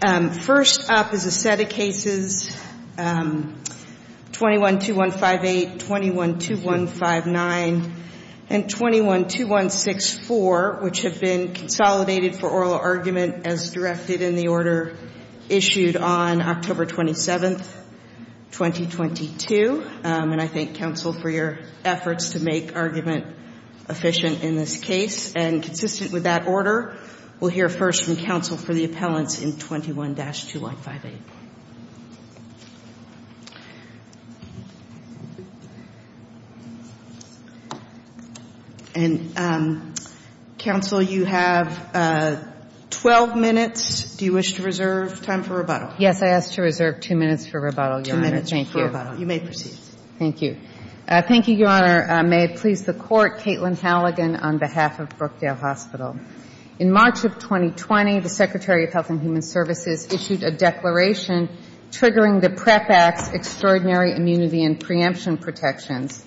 First up is a set of cases 21-2158, 21-2159, and 21-2164, which have been consolidated for oral argument as directed in the order issued on October 27, 2022. And I thank counsel for your efforts to make argument efficient in this case. And consistent with that order, we'll hear first from counsel for the appellants in 21-2158. And, counsel, you have 12 minutes. Do you wish to reserve time for rebuttal? Yes, I ask to reserve two minutes for rebuttal, Your Honor. Two minutes for rebuttal. You may proceed. Thank you. Thank you, Your Honor. May it please the Court, Caitlin Halligan on behalf of Brookdale Hospital. In March of 2020, the Secretary of Health and Human Services issued a declaration triggering the PREP Act's extraordinary immunity and preemption protections,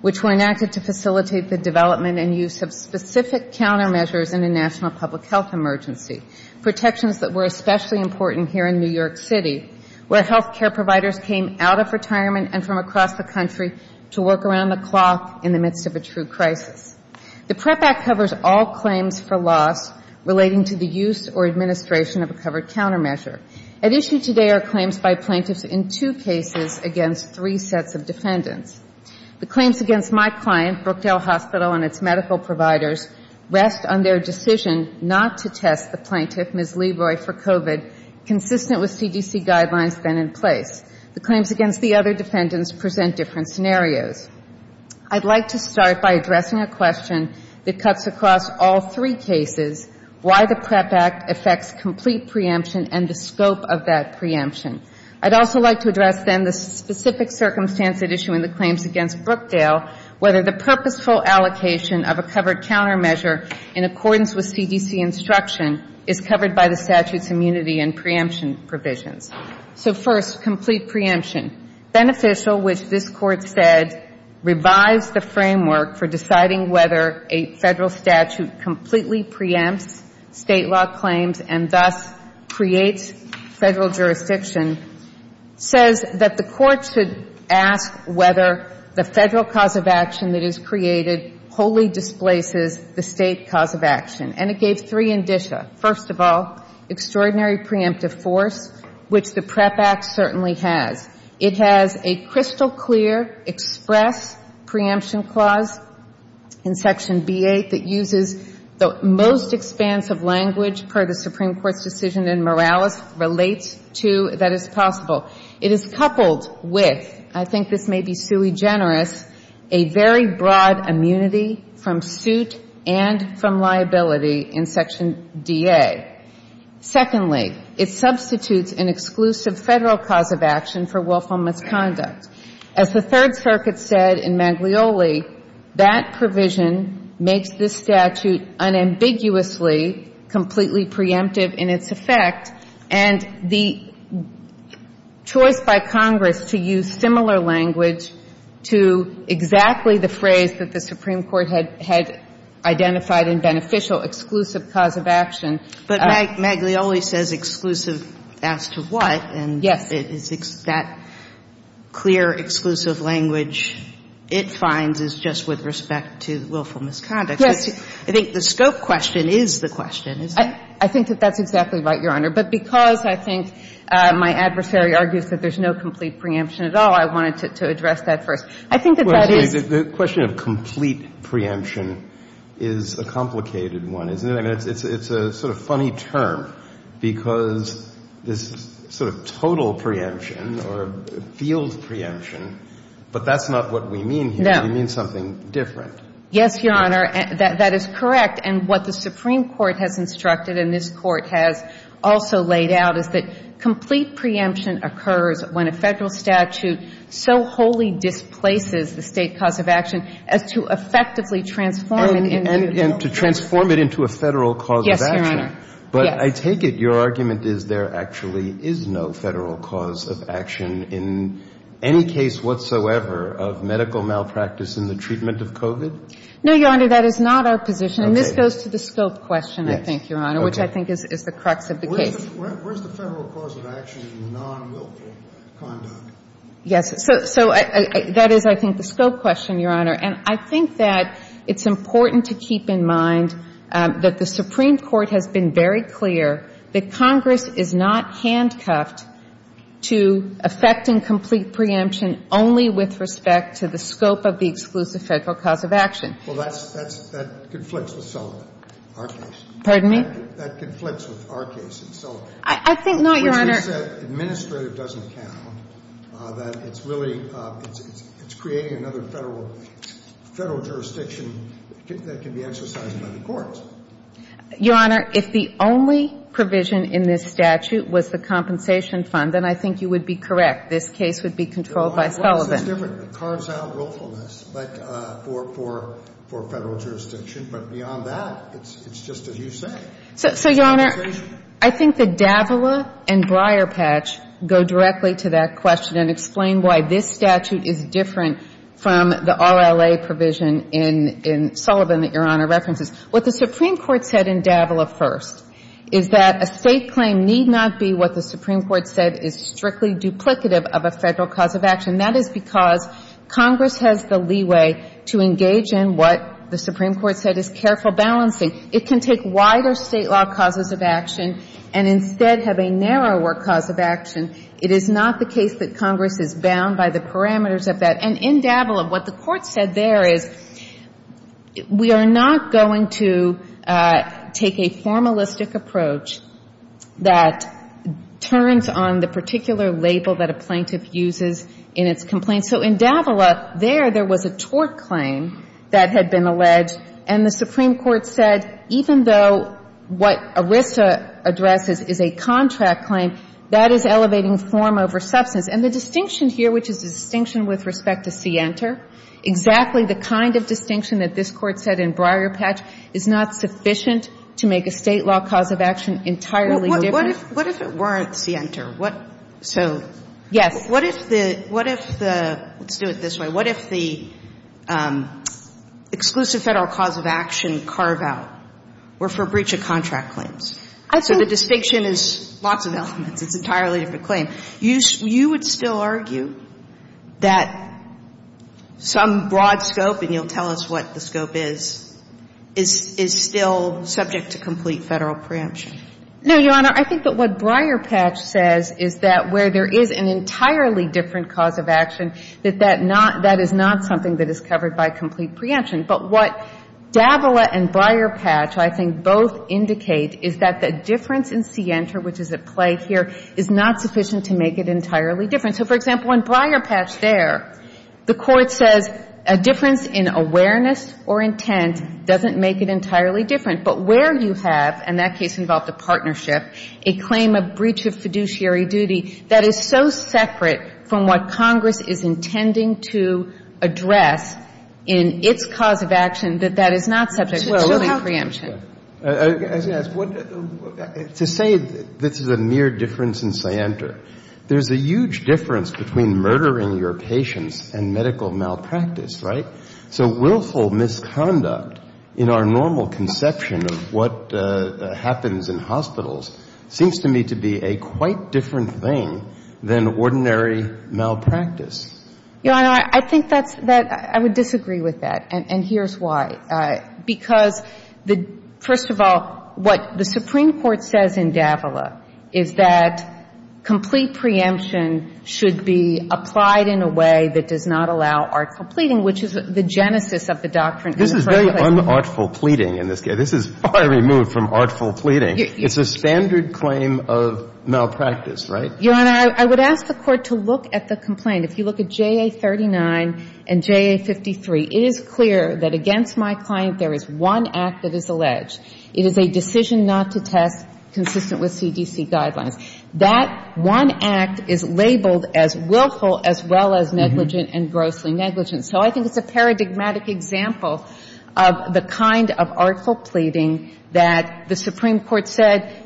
which were enacted to facilitate the development and use of specific countermeasures in a national public health emergency, protections that were especially important here in New York City, where health care providers came out of retirement and from across the country to work around the clock in the midst of a true crisis. The PREP Act covers all claims for loss relating to the use or administration of a covered countermeasure. At issue today are claims by plaintiffs in two cases against three sets of defendants. The claims against my client, Brookdale Hospital, and its medical providers rest on their decision not to test the plaintiff, Ms. Leroy, for COVID, consistent with CDC guidelines then in place. The claims against the other defendants present different scenarios. I'd like to start by addressing a question that cuts across all three cases, why the PREP Act affects complete preemption and the scope of that preemption. I'd also like to address then the specific circumstance at issue in the claims against Brookdale, whether the purposeful allocation of a covered countermeasure in accordance with CDC instruction is covered by the statute's immunity and preemption provisions. So first, complete preemption. Beneficial, which this Court said revives the framework for deciding whether a federal statute completely preempts state law claims and thus creates federal jurisdiction, says that the Court should ask whether the federal cause of action that is created wholly displaces the state cause of action. And it gave three indicia. First of all, extraordinary preemptive force, which the PREP Act certainly has. It has a crystal-clear express preemption clause in Section B-8 that uses the most expansive language per the Supreme Court's decision in Morales, relates to that it's possible. It is coupled with, I think this may be sui generis, a very broad immunity from suit and from liability in Section D-A. Secondly, it substitutes an exclusive federal cause of action for willful misconduct. As the Third Circuit said in Maglioli, that provision makes this statute unambiguously completely preemptive in its effect, and the choice by Congress to use similar language to exactly the phrase that the Supreme Court had identified in beneficial exclusive cause of action. But Maglioli says exclusive as to what, and that clear exclusive language it finds is just with respect to willful misconduct. Yes. I think the scope question is the question, isn't it? I think that that's exactly right, Your Honor. But because I think my adversary argues that there's no complete preemption at all, I wanted to address that first. I think that that is the question of complete preemption is a complicated one, isn't it? And it's a sort of funny term because this sort of total preemption or field preemption, but that's not what we mean here. No. We mean something different. Yes, Your Honor. That is correct. And what the Supreme Court has instructed and this Court has also laid out is that complete preemption occurs when a federal statute so wholly displaces the state cause of action as to effectively transform it into a federal statute. And to transform it into a federal cause of action. Yes, Your Honor. But I take it your argument is there actually is no federal cause of action in any case whatsoever of medical malpractice in the treatment of COVID? No, Your Honor. That is not our position. Okay. And this goes to the scope question, I think, Your Honor, which I think is the crux of the case. Where's the federal cause of action in non-wilful conduct? Yes. So that is, I think, the scope question, Your Honor. And I think that it's important to keep in mind that the Supreme Court has been very clear that Congress is not handcuffed to effecting complete preemption only with respect to the scope of the exclusive federal cause of action. Well, that conflicts with Sullivan, our case. Pardon me? That conflicts with our case in Sullivan. I think not, Your Honor. I think that administrative doesn't count, that it's really creating another federal jurisdiction that can be exercised by the courts. Your Honor, if the only provision in this statute was the compensation fund, then I think you would be correct. This case would be controlled by Sullivan. It's different. It carves out willfulness, but for federal jurisdiction. But beyond that, it's just as you say. So, Your Honor, I think that Davila and Briarpatch go directly to that question and explain why this statute is different from the RLA provision in Sullivan that Your Honor references. What the Supreme Court said in Davila first is that a State claim need not be what the Supreme Court said is strictly duplicative of a federal cause of action. That is because Congress has the leeway to engage in what the Supreme Court said is careful balancing. It can take wider State law causes of action and instead have a narrower cause of action. It is not the case that Congress is bound by the parameters of that. And in Davila, what the Court said there is we are not going to take a formalistic approach that turns on the particular label that a plaintiff uses in its complaint. So in Davila, there, there was a tort claim that had been alleged, and the Supreme Court said even though what ERISA addresses is a contract claim, that is elevating form over substance. And the distinction here, which is the distinction with respect to Sienter, exactly the kind of distinction that this Court said in Briarpatch is not sufficient to make a State law cause of action entirely different. Sotomayor What if it weren't Sienter? So what if the, let's do it this way. What if the exclusive Federal cause of action carve-out were for breach of contract claims? So the distinction is lots of elements. It's an entirely different claim. You would still argue that some broad scope, and you'll tell us what the scope is, is still subject to complete Federal preemption. No, Your Honor. I think that what Briarpatch says is that where there is an entirely different that that is not something that is covered by complete preemption. But what Davila and Briarpatch, I think, both indicate is that the difference in Sienter, which is at play here, is not sufficient to make it entirely different. So, for example, in Briarpatch there, the Court says a difference in awareness or intent doesn't make it entirely different. But where you have, and that case involved a partnership, a claim of breach of fiduciary duty, that is so separate from what Congress is intending to address in its cause of action, that that is not subject to preemption. To say that this is a mere difference in Sienter, there's a huge difference between murdering your patients and medical malpractice, right? So willful misconduct in our normal conception of what happens in hospitals seems to me to be a quite different thing than ordinary malpractice. Your Honor, I think that's, I would disagree with that. And here's why. Because, first of all, what the Supreme Court says in Davila is that complete preemption should be applied in a way that does not allow artful pleading, which is the genesis of the doctrine in the first place. This is very unartful pleading in this case. This is far removed from artful pleading. It's a standard claim of malpractice, right? Your Honor, I would ask the Court to look at the complaint. If you look at JA39 and JA53, it is clear that against my client there is one act that is alleged. It is a decision not to test consistent with CDC guidelines. That one act is labeled as willful as well as negligent and grossly negligent. So I think it's a paradigmatic example of the kind of artful pleading that the Supreme Court said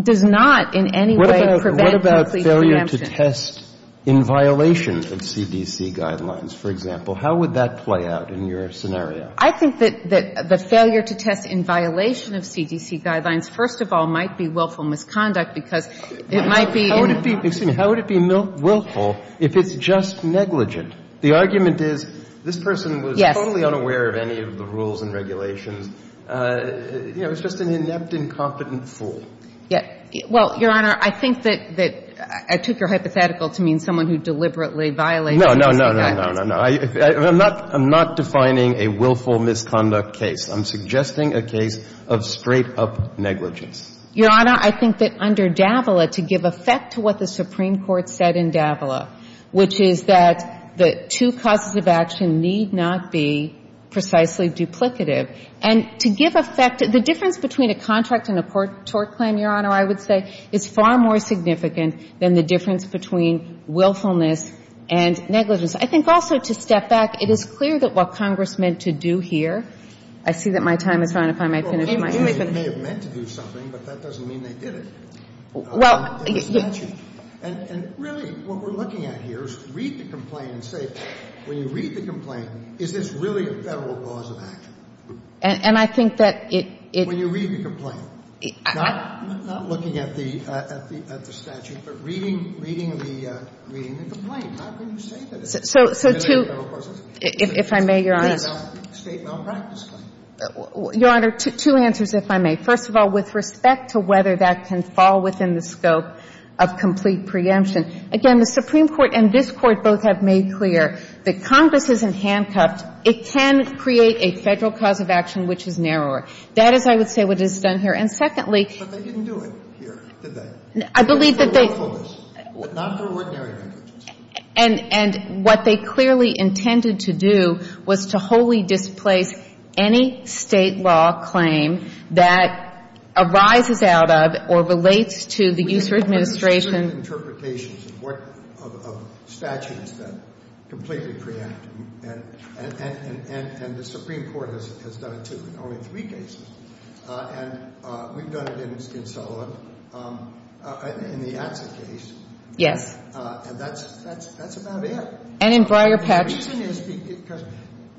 does not in any way prevent complete preemption. What about failure to test in violation of CDC guidelines, for example? How would that play out in your scenario? I think that the failure to test in violation of CDC guidelines, first of all, might be willful misconduct because it might be in the... How would it be willful if it's just negligent? The argument is this person was totally unaware of any of the rules and regulations. You know, it's just an inept, incompetent fool. Well, Your Honor, I think that I took your hypothetical to mean someone who deliberately violated CDC guidelines. No, no, no, no, no. I'm not defining a willful misconduct case. I'm suggesting a case of straight-up negligence. Your Honor, I think that under Davila, to give effect to what the Supreme Court said in Davila, which is that the two causes of action need not be precisely duplicative. And to give effect, the difference between a contract and a tort claim, Your Honor, I would say is far more significant than the difference between willfulness and negligence. I think also to step back, it is clear that what Congress meant to do here, I see that my time is run up. I might finish my statement. Well, they may have meant to do something, but that doesn't mean they did it. Well... In the statute. And really, what we're looking at here is read the complaint and say, when you read the complaint, is this really a Federal cause of action? And I think that it... When you read the complaint. Not looking at the statute, but reading the complaint. How can you say that it's a Federal cause of action? If I may, Your Honor... State malpractice claim. Your Honor, two answers, if I may. First of all, with respect to whether that can fall within the scope of complete preemption. Again, the Supreme Court and this Court both have made clear that Congress isn't handcuffed. It can create a Federal cause of action which is narrower. That is, I would say, what is done here. And secondly... But they didn't do it here, did they? I believe that they... For willfulness, not for ordinary negligence. And what they clearly intended to do was to wholly displace any State law claim that arises out of or relates to the user administration... of statutes that completely preempt. And the Supreme Court has done it, too, in only three cases. And we've done it in Sullivan, in the Atza case. Yes. And that's about it. And in Breyer-Petch. The reason is because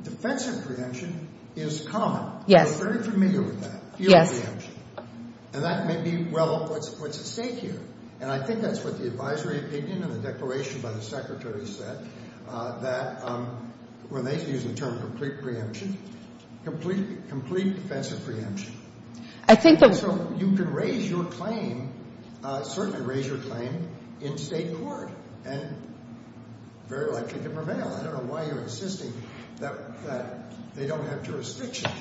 defensive preemption is common. Yes. We're very familiar with that. Yes. And that may be, well, what's at stake here. And I think that's what the advisory opinion and the declaration by the Secretary said, that when they use the term complete preemption, complete defensive preemption. I think that... So you can raise your claim, certainly raise your claim, in State court and very likely to prevail. I don't know why you're insisting that they don't have jurisdiction.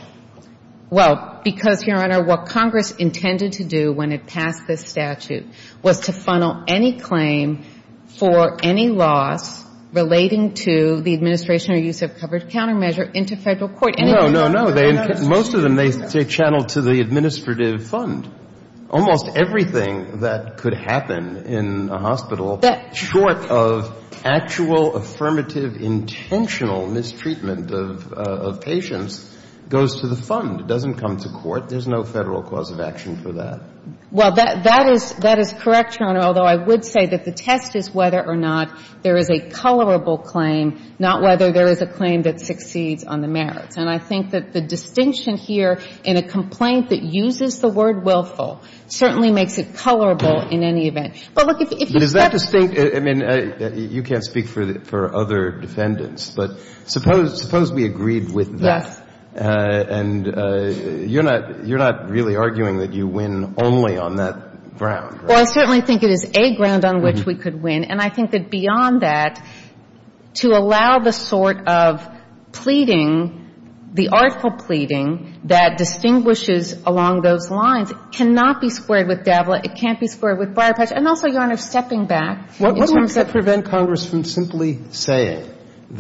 Well, because, Your Honor, what Congress intended to do when it passed this statute was to funnel any claim for any loss relating to the administration or use of covered countermeasure into Federal court. No, no, no. Most of them they channel to the administrative fund. Almost everything that could happen in a hospital short of actual, affirmative, intentional mistreatment of patients goes to the fund. It doesn't come to court. There's no Federal cause of action for that. Well, that is correct, Your Honor, although I would say that the test is whether or not there is a colorable claim, not whether there is a claim that succeeds on the merits. And I think that the distinction here in a complaint that uses the word willful certainly makes it colorable in any event. But, look, if you... But is that distinct? I mean, you can't speak for other defendants. But suppose we agreed with that. Yes. And you're not really arguing that you win only on that ground, right? Well, I certainly think it is a ground on which we could win. And I think that beyond that, to allow the sort of pleading, the artful pleading that distinguishes along those lines cannot be squared with DAVLA. It can't be squared with briar patch. And also, Your Honor, stepping back in terms of... Well, I'm not saying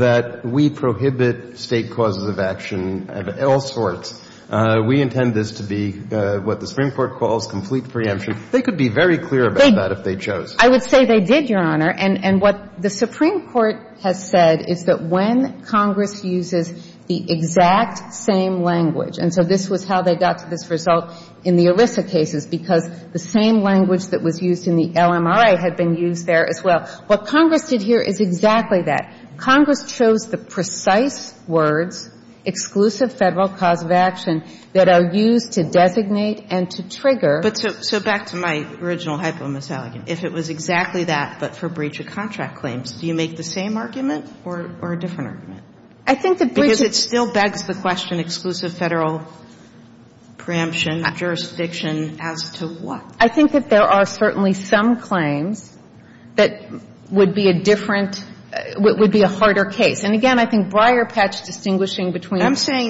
that we prohibit State causes of action of all sorts. We intend this to be what the Supreme Court calls complete preemption. They could be very clear about that if they chose. I would say they did, Your Honor. And what the Supreme Court has said is that when Congress uses the exact same language and so this was how they got to this result in the ERISA cases because the same language that was used in the LMRA had been used there as well. What Congress did here is exactly that. Congress chose the precise words, exclusive Federal cause of action, that are used to designate and to trigger. But so back to my original hypo-misalligation. If it was exactly that but for breach of contract claims, do you make the same argument or a different argument? I think the breach of... Because it still begs the question, exclusive Federal preemption, jurisdiction as to what? I think that there are certainly some claims that would be a different, would be a harder case. And again, I think Breyer patched distinguishing between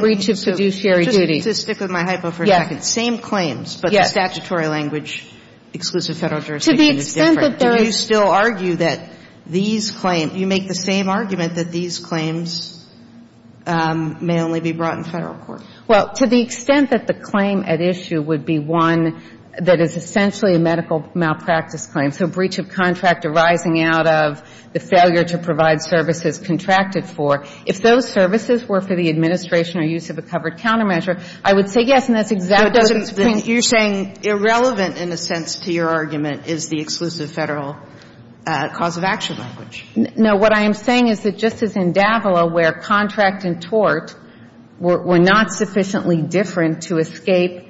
breach of fiduciary duties. I'm saying, just to stick with my hypo for a second. Yes. Same claims. Yes. But the statutory language, exclusive Federal jurisdiction is different. To the extent that there is... Do you still argue that these claims, do you make the same argument that these claims may only be brought in Federal court? Well, to the extent that the claim at issue would be one that is essentially a medical malpractice claim. So breach of contract arising out of the failure to provide services contracted for. If those services were for the administration or use of a covered countermeasure, I would say yes, and that's exactly... But you're saying irrelevant, in a sense, to your argument is the exclusive Federal cause of action language. No. But what I am saying is that just as in Davila where contract and tort were not sufficiently different to escape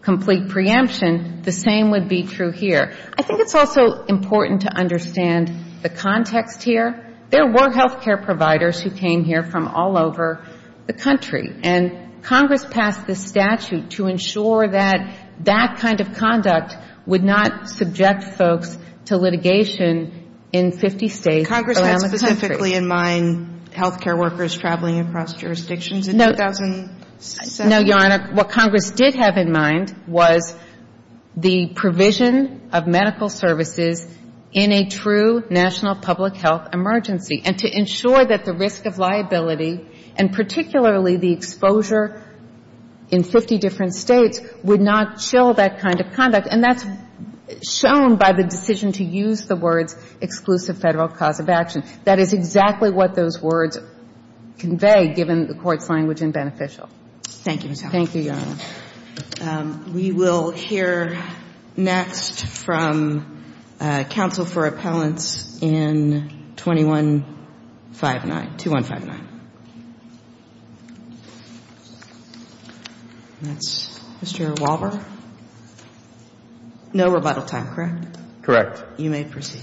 complete preemption, the same would be true here. I think it's also important to understand the context here. There were health care providers who came here from all over the country. And Congress passed this statute to ensure that that kind of conduct would not subject folks to litigation in 50 states around the country. Did Congress specifically in mind health care workers traveling across jurisdictions in 2007? No, Your Honor. What Congress did have in mind was the provision of medical services in a true national public health emergency. And to ensure that the risk of liability and particularly the exposure in 50 different states would not chill that kind of conduct. And that's shown by the decision to use the words exclusive Federal cause of action. That is exactly what those words convey, given the Court's language in Beneficial. Thank you, Ms. Howard. Thank you, Your Honor. We will hear next from counsel for appellants in 2159, 2159. That's Mr. Walber. No rebuttal time, correct? Correct. You may proceed.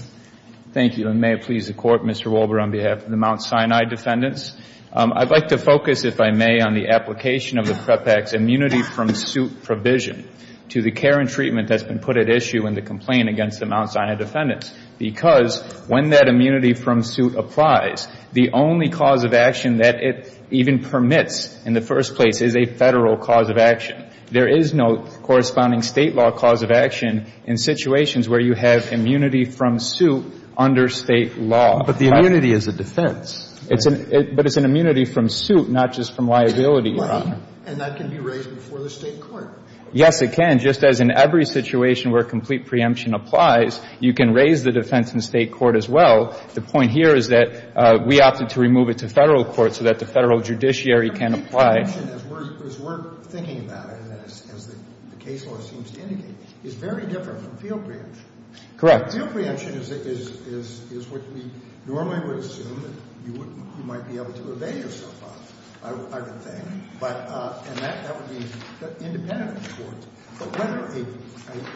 Thank you. And may it please the Court, Mr. Walber, on behalf of the Mount Sinai defendants. I'd like to focus, if I may, on the application of the PREP Act's immunity from suit provision to the care and treatment that's been put at issue in the complaint against the Mount Sinai defendants. Because when that immunity from suit applies, the only cause of action that it even permits in the first place is a Federal cause of action. There is no corresponding State law cause of action in situations where you have an immunity from suit under State law. But the immunity is a defense. But it's an immunity from suit, not just from liability, Your Honor. And that can be raised before the State court. Yes, it can. Just as in every situation where complete preemption applies, you can raise the defense in State court as well. The point here is that we opted to remove it to Federal court so that the Federal judiciary can apply. Complete preemption, as we're thinking about it and as the case law seems to indicate, is very different from field preemption. Correct. Field preemption is what we normally would assume that you might be able to evade yourself of, I would think. And that would be independent of the courts. But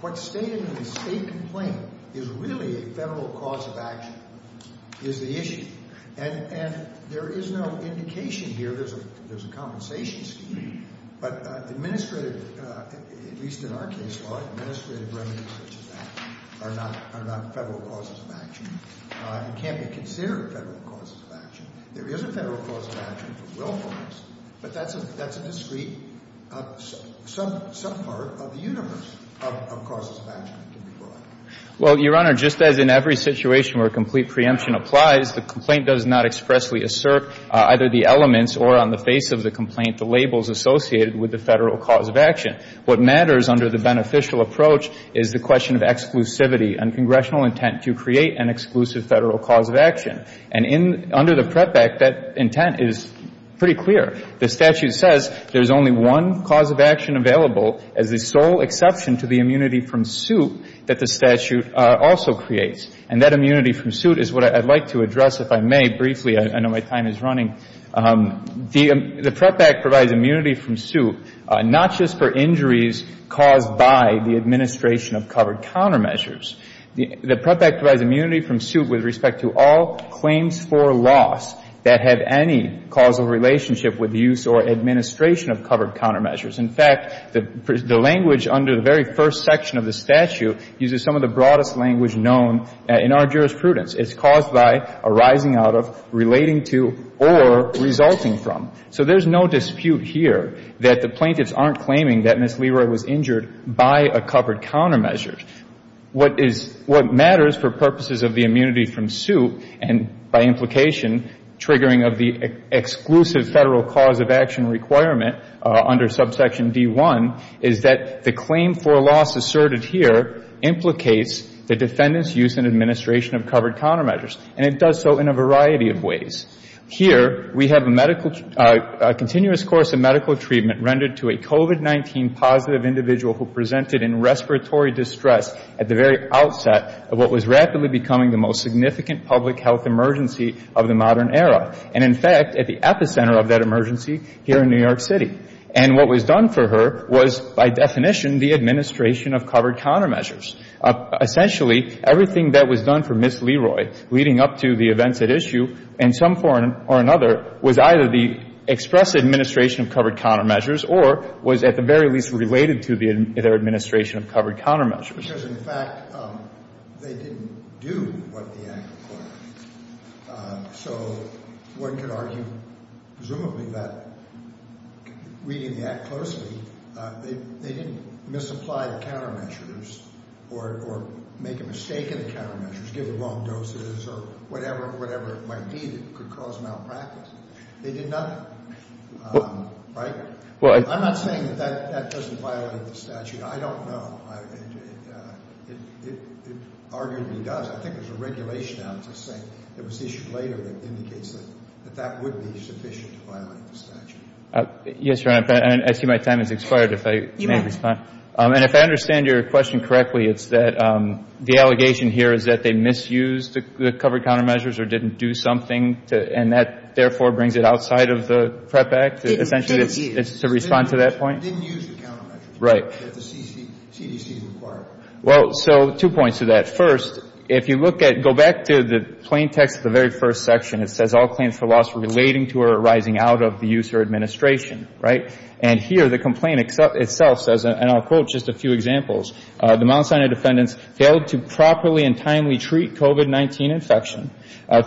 what's stated in the State complaint is really a Federal cause of action is the issue. And there is no indication here. There's a compensation scheme. But administrative, at least in our case law, administrative remunerations are not Federal causes of action. It can't be considered Federal causes of action. There is a Federal cause of action for willfulness. But that's a discrete, some part of the universe of causes of action. Well, Your Honor, just as in every situation where complete preemption applies, the complaint does not expressly assert either the elements or on the face of the complaint the labels associated with the Federal cause of action. What matters under the beneficial approach is the question of exclusivity and congressional intent to create an exclusive Federal cause of action. And under the PREP Act, that intent is pretty clear. The statute says there's only one cause of action available as the sole exception to the immunity from suit that the statute also creates. And that immunity from suit is what I'd like to address, if I may, briefly. I know my time is running. The PREP Act provides immunity from suit not just for injuries caused by the administration of covered countermeasures. The PREP Act provides immunity from suit with respect to all claims for loss that have any causal relationship with use or administration of covered countermeasures. In fact, the language under the very first section of the statute uses some of the broadest language known in our jurisprudence. It's caused by, arising out of, relating to, or resulting from. So there's no dispute here that the plaintiffs aren't claiming that Ms. Leroy was injured by a covered countermeasure. What is — what matters for purposes of the immunity from suit and by implication triggering of the exclusive Federal cause of action requirement under subsection D-1 is that the claim for loss asserted here implicates the defendant's use and administration of covered countermeasures. And it does so in a variety of ways. Here, we have a medical — a continuous course of medical treatment rendered to a COVID-19 positive individual who presented in respiratory distress at the very outset of what was rapidly becoming the most significant public health emergency of the modern era, and in fact, at the epicenter of that emergency here in New York City. And what was done for her was, by definition, the administration of covered countermeasures. Essentially, everything that was done for Ms. Leroy leading up to the events at issue in some form or another was either the express administration of covered countermeasures or was, at the very least, related to their administration of covered countermeasures. Because, in fact, they didn't do what the Act required. So one could argue, presumably, that reading the Act closely, they didn't misapply the countermeasures or make a mistake in the countermeasures, give the wrong doses or whatever it might be that could cause malpractice. They did nothing. Right? I'm not saying that that doesn't violate the statute. I don't know. It arguably does. I think there's a regulation out that was issued later that indicates that that would be sufficient to violate the statute. Yes, Your Honor. I see my time has expired, if I may respond. You may. And if I understand your question correctly, it's that the allegation here is that they misused the covered countermeasures or didn't do something, and that, therefore, brings it outside of the PREP Act, essentially, to respond to that point? They didn't use the countermeasures. Right. That the CDC required. Well, so two points to that. First, if you look at go back to the plain text of the very first section, it says, relating to or arising out of the use or administration. Right? And here, the complaint itself says, and I'll quote just a few examples, the Mount Sinai defendants failed to properly and timely treat COVID-19 infection,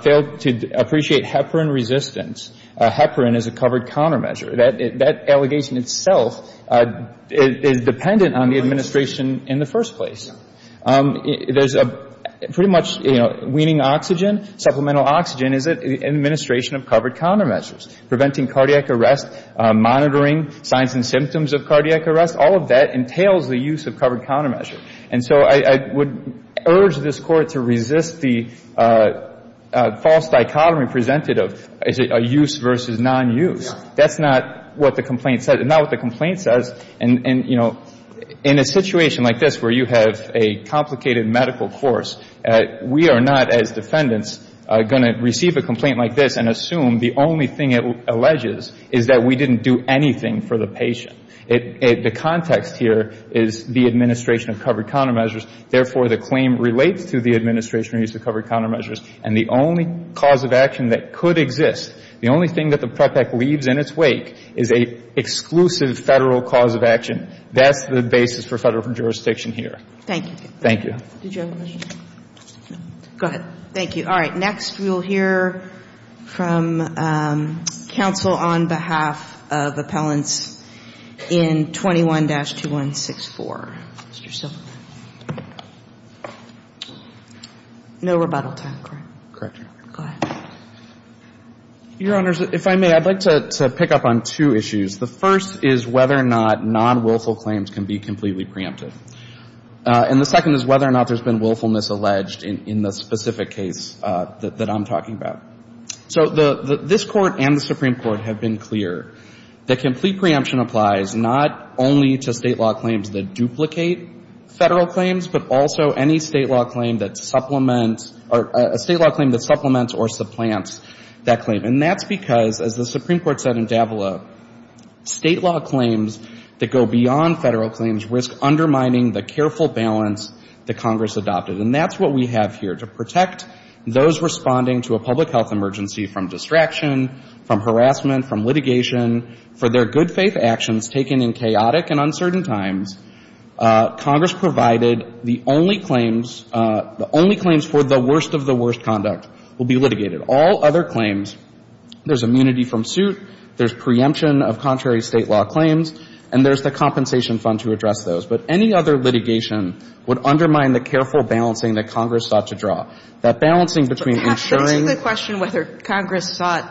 failed to appreciate heparin resistance. Heparin is a covered countermeasure. That allegation itself is dependent on the administration in the first place. There's a pretty much, you know, weaning oxygen, supplemental oxygen is an administration of covered countermeasures. Preventing cardiac arrest, monitoring signs and symptoms of cardiac arrest, all of that entails the use of covered countermeasure. And so I would urge this Court to resist the false dichotomy presented of use versus non-use. That's not what the complaint says. And, you know, in a situation like this where you have a complicated medical course, we are not, as defendants, going to receive a complaint like this and assume the only thing it alleges is that we didn't do anything for the patient. The context here is the administration of covered countermeasures. Therefore, the claim relates to the administration of use of covered countermeasures. And the only cause of action that could exist, the only thing that the PREP Act leaves in its wake is an exclusive Federal cause of action. That's the basis for Federal jurisdiction here. Thank you. Thank you. Did you have a question? No. Go ahead. Thank you. All right. Next, we will hear from counsel on behalf of appellants in 21-2164. Mr. Silverman. No rebuttal time, correct? Correct, Your Honor. Go ahead. Your Honors, if I may, I'd like to pick up on two issues. The first is whether or not non-willful claims can be completely preempted. And the second is whether or not there's been willfulness alleged in the specific case that I'm talking about. So this Court and the Supreme Court have been clear that complete preemption applies not only to State law claims that duplicate Federal claims, but also any State law claim that supplements or supplants that claim. And that's because, as the Supreme Court said in Davila, State law claims that go beyond Federal claims risk undermining the careful balance that Congress adopted. And that's what we have here. To protect those responding to a public health emergency from distraction, from harassment, from litigation, for their good faith actions taken in chaotic and The only claims for the worst of the worst conduct will be litigated. All other claims, there's immunity from suit, there's preemption of contrary State law claims, and there's the compensation fund to address those. But any other litigation would undermine the careful balancing that Congress sought to draw. That balancing between ensuring Perhaps, but isn't the question whether Congress sought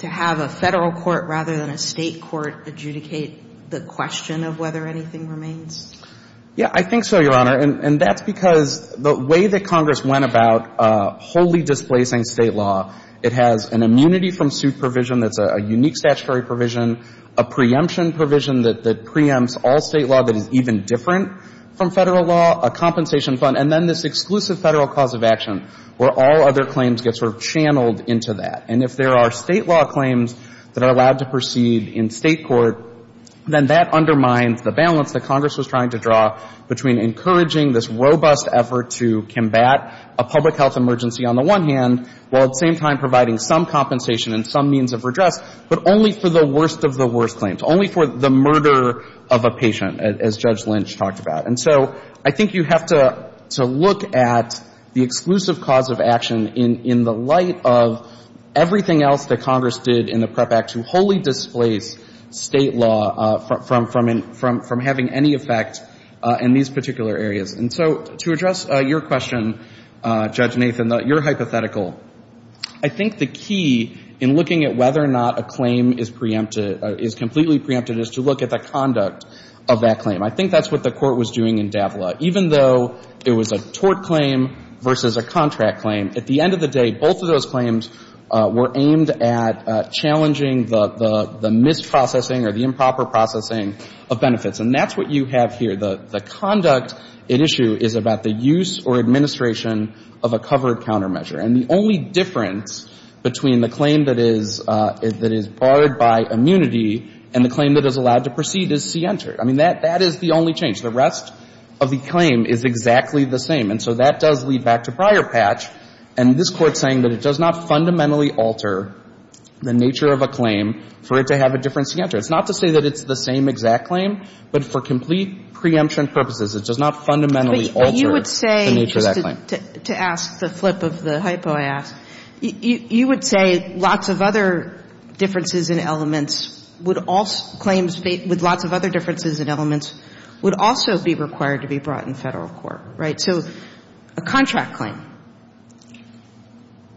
to have a Federal court rather than a State court adjudicate the question of whether anything remains? Yeah. I think so, Your Honor. And that's because the way that Congress went about wholly displacing State law, it has an immunity from suit provision that's a unique statutory provision, a preemption provision that preempts all State law that is even different from Federal law, a compensation fund, and then this exclusive Federal cause of action where all other claims get sort of channeled into that. And if there are State law claims that are allowed to proceed in State court, then that undermines the balance that Congress was trying to draw between encouraging this robust effort to combat a public health emergency on the one hand, while at the same time providing some compensation and some means of redress, but only for the worst of the worst claims, only for the murder of a patient, as Judge Lynch talked about. And so I think you have to look at the exclusive cause of action in the light of having any effect in these particular areas. And so to address your question, Judge Nathan, your hypothetical, I think the key in looking at whether or not a claim is preempted, is completely preempted, is to look at the conduct of that claim. I think that's what the Court was doing in Davila. Even though it was a tort claim versus a contract claim, at the end of the day, both of those claims were aimed at challenging the misprocessing or the improper processing of benefits. And that's what you have here. The conduct at issue is about the use or administration of a covered countermeasure. And the only difference between the claim that is barred by immunity and the claim that is allowed to proceed is C-Enter. I mean, that is the only change. The rest of the claim is exactly the same. And so that does lead back to prior patch. And this Court's saying that it does not fundamentally alter the nature of a claim for it to have a different C-Enter. It's not to say that it's the same exact claim, but for complete preemption purposes, it does not fundamentally alter the nature of that claim. But you would say, just to ask the flip of the hypo I asked, you would say lots of other differences in elements would also — claims with lots of other differences in elements would also be required to be brought in Federal court, right? So a contract claim.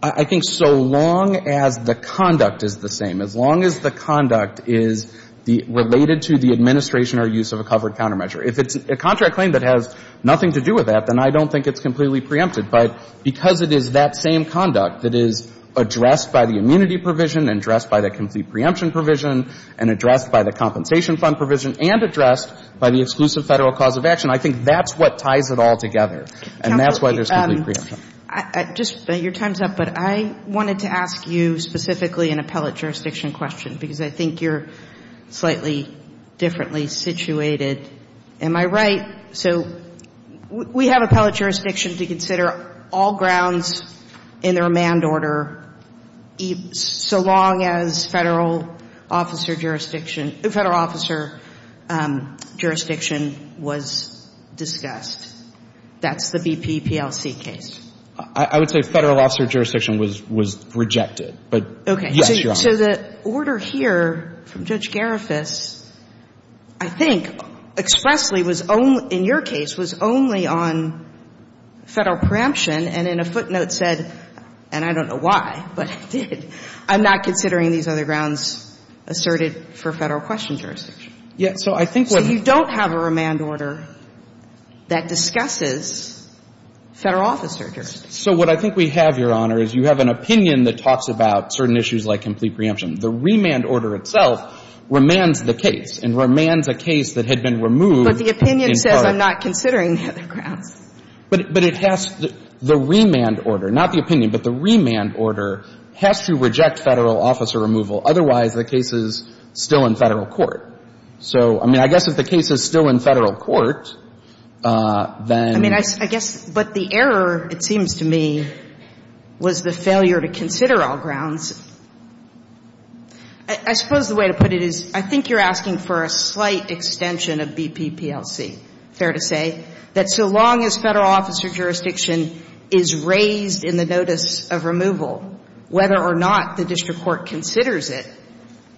I think so long as the conduct is the same, as long as the conduct is the — related to the administration or use of a covered countermeasure. If it's a contract claim that has nothing to do with that, then I don't think it's completely preempted. But because it is that same conduct that is addressed by the immunity provision and addressed by the complete preemption provision and addressed by the compensation fund provision and addressed by the exclusive Federal cause of action, I think that's what ties it all together. And that's why there's complete preemption. Counsel, I just — your time's up. But I wanted to ask you specifically an appellate jurisdiction question, because I think you're slightly differently situated. Am I right? So we have appellate jurisdiction to consider all grounds in the remand order so long as Federal officer jurisdiction — Federal officer jurisdiction was discussed. That's the BP PLC case. I would say Federal officer jurisdiction was rejected. But, yes, Your Honor. Okay. So the order here from Judge Garifas, I think, expressly was only — in your case, was only on Federal preemption and in a footnote said — and I don't know why, but I'm not considering these other grounds asserted for Federal question jurisdiction. Yeah. So I think what — So you don't have a remand order that discusses Federal officer jurisdiction. So what I think we have, Your Honor, is you have an opinion that talks about certain issues like complete preemption. The remand order itself remands the case and remands a case that had been removed in part. But the opinion says I'm not considering the other grounds. But it has — the remand order, not the opinion, but the remand order has to reject Federal officer removal. Otherwise, the case is still in Federal court. So, I mean, I guess if the case is still in Federal court, then — I mean, I guess — but the error, it seems to me, was the failure to consider all grounds. I suppose the way to put it is I think you're asking for a slight extension of BP PLC, fair to say, that so long as Federal officer jurisdiction is raised in the notice of removal, whether or not the district court considers it,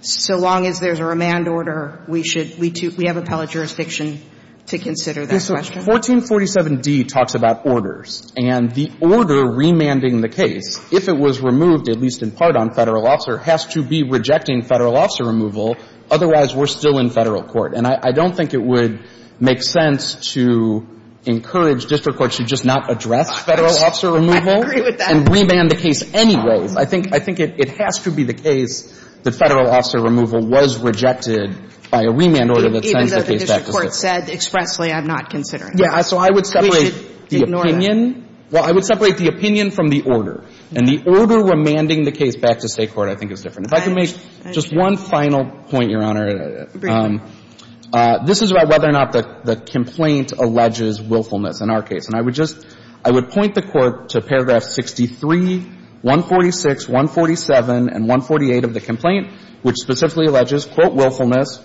so long as there's a remand order, we should — we have appellate jurisdiction to consider that question. Yes. So 1447d talks about orders. And the order remanding the case, if it was removed, at least in part, on Federal officer, has to be rejecting Federal officer removal. Otherwise, we're still in Federal court. And I don't think it would make sense to encourage district courts to just not address Federal officer removal and remand the case anyway. I think — I think it has to be the case that Federal officer removal was rejected by a remand order that sends the case back to State court. Even though the district court said expressly, I'm not considering it. So I would separate the opinion. We should ignore that. Well, I would separate the opinion from the order. And the order remanding the case back to State court, I think, is different. If I could make just one final point, Your Honor. Go ahead. This is about whether or not the complaint alleges willfulness in our case. And I would just — I would point the Court to paragraph 63, 146, 147, and 148 of the complaint, which specifically alleges, quote, willfulness,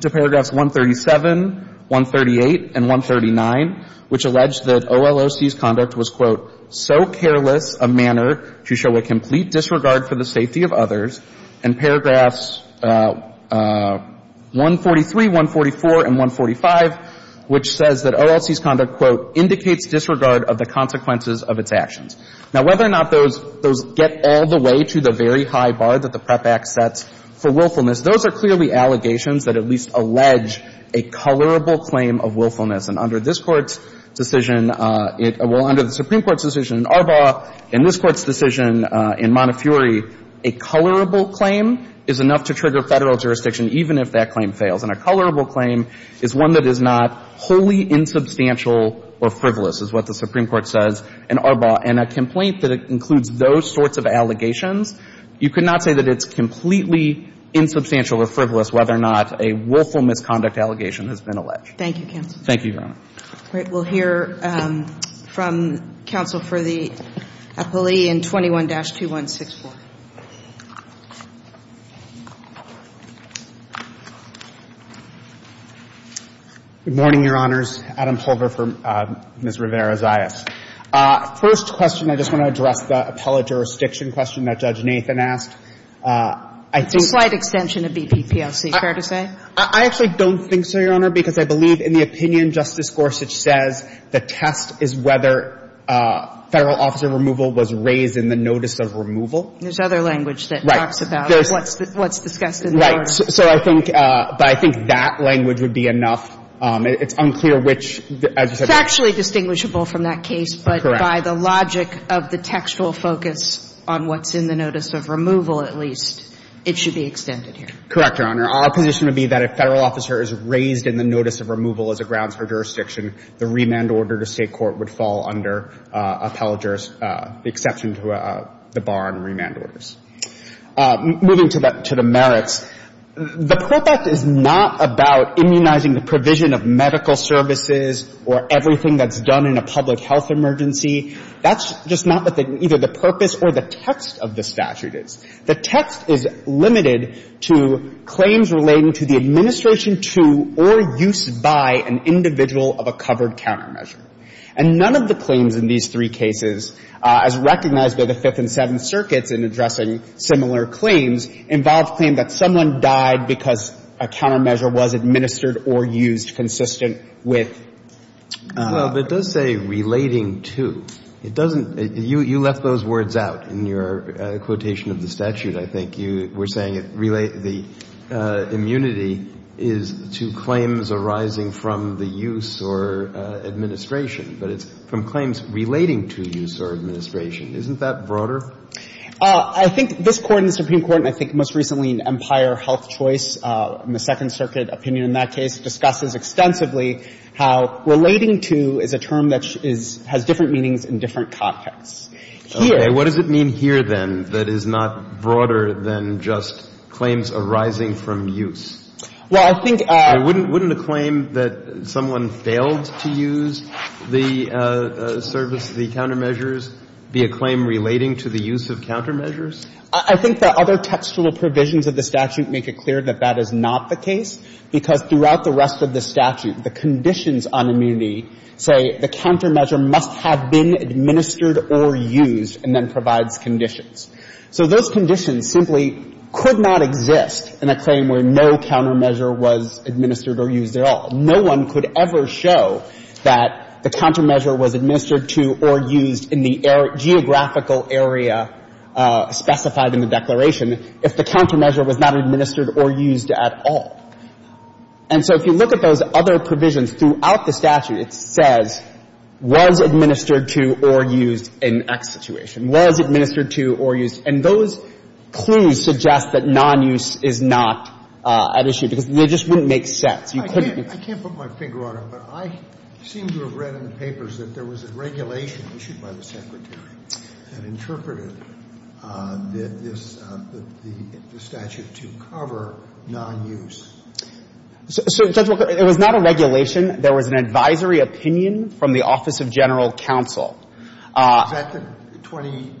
to paragraphs 137, 138, and 139, which allege that OLOC's conduct was, quote, so careless a manner to show a complete disregard for the safety of others, and paragraphs 143, 144, and 145, which says that OLOC's conduct, quote, indicates disregard of the consequences of its actions. Now, whether or not those — those get all the way to the very high bar that the PREP Act sets for willfulness, those are clearly allegations that at least allege a colorable claim of willfulness. And under this Court's decision — well, under the Supreme Court's decision in Arbaugh and this Court's decision in Montefiore, a colorable claim is enough to trigger Federal jurisdiction even if that claim fails. And a colorable claim is one that is not wholly insubstantial or frivolous, is what the Supreme Court says in Arbaugh. And a complaint that includes those sorts of allegations, you could not say that it's completely insubstantial or frivolous whether or not a willful misconduct allegation has been alleged. Thank you, counsel. Thank you, Your Honor. All right. We'll hear from counsel for the appellee in 21-2164. Good morning, Your Honors. Adam Pulver for Ms. Rivera-Zayas. First question, I just want to address the appellate jurisdiction question that Judge Nathan asked. I think — It's a slight extension of BP PLC. Fair to say? I actually don't think so, Your Honor, because I believe in the opinion Justice Gorsuch says the test is whether Federal officer removal was raised in the notice of removal. There's other language that talks about what's discussed in the order. Right. So I think — but I think that language would be enough. It's unclear which — It's actually distinguishable from that case. Correct. But by the logic of the textual focus on what's in the notice of removal, at least, it should be extended here. Correct, Your Honor. Our position would be that if Federal officer is raised in the notice of removal as a grounds for jurisdiction, the remand order to State court would fall under appellate jurisdiction, the exception to the bar on remand orders. Moving to the merits, the PREP Act is not about immunizing the provision of medical services or everything that's done in a public health emergency. That's just not what either the purpose or the text of the statute is. The text is limited to claims relating to the administration to or use by an individual of a covered countermeasure. And none of the claims in these three cases, as recognized by the Fifth and Seventh Circuits in addressing similar claims, involve a claim that someone died because a countermeasure was administered or used consistent with — Well, but it does say relating to. It doesn't. You left those words out in your quotation of the statute. I think you were saying the immunity is to claims arising from the use or administration. But it's from claims relating to use or administration. Isn't that broader? I think this Court and the Supreme Court, and I think most recently in Empire Health Choice, the Second Circuit opinion in that case, discusses extensively how relating to is a term that has different meanings in different contexts. Here — Okay. What does it mean here, then, that is not broader than just claims arising from use? Well, I think — Wouldn't a claim that someone failed to use the service, the countermeasures, be a claim relating to the use of countermeasures? I think the other textual provisions of the statute make it clear that that is not the case, because throughout the rest of the statute, the conditions on immunity say the countermeasure must have been administered or used, and then provides conditions. So those conditions simply could not exist in a claim where no countermeasure was administered or used at all. No one could ever show that the countermeasure was administered to or used in the geographical area specified in the declaration if the countermeasure was not administered or used at all. And so if you look at those other provisions throughout the statute, it says was administered to or used in X situation, was administered to or used. And those clues suggest that nonuse is not at issue, because they just wouldn't make sense. You couldn't be — I can't put my finger on it, but I seem to have read in papers that there was a regulation issued by the Secretary that interpreted this — the statute to cover nonuse. So, Judge Walker, it was not a regulation. There was an advisory opinion from the Office of General Counsel. Is that the 20-01?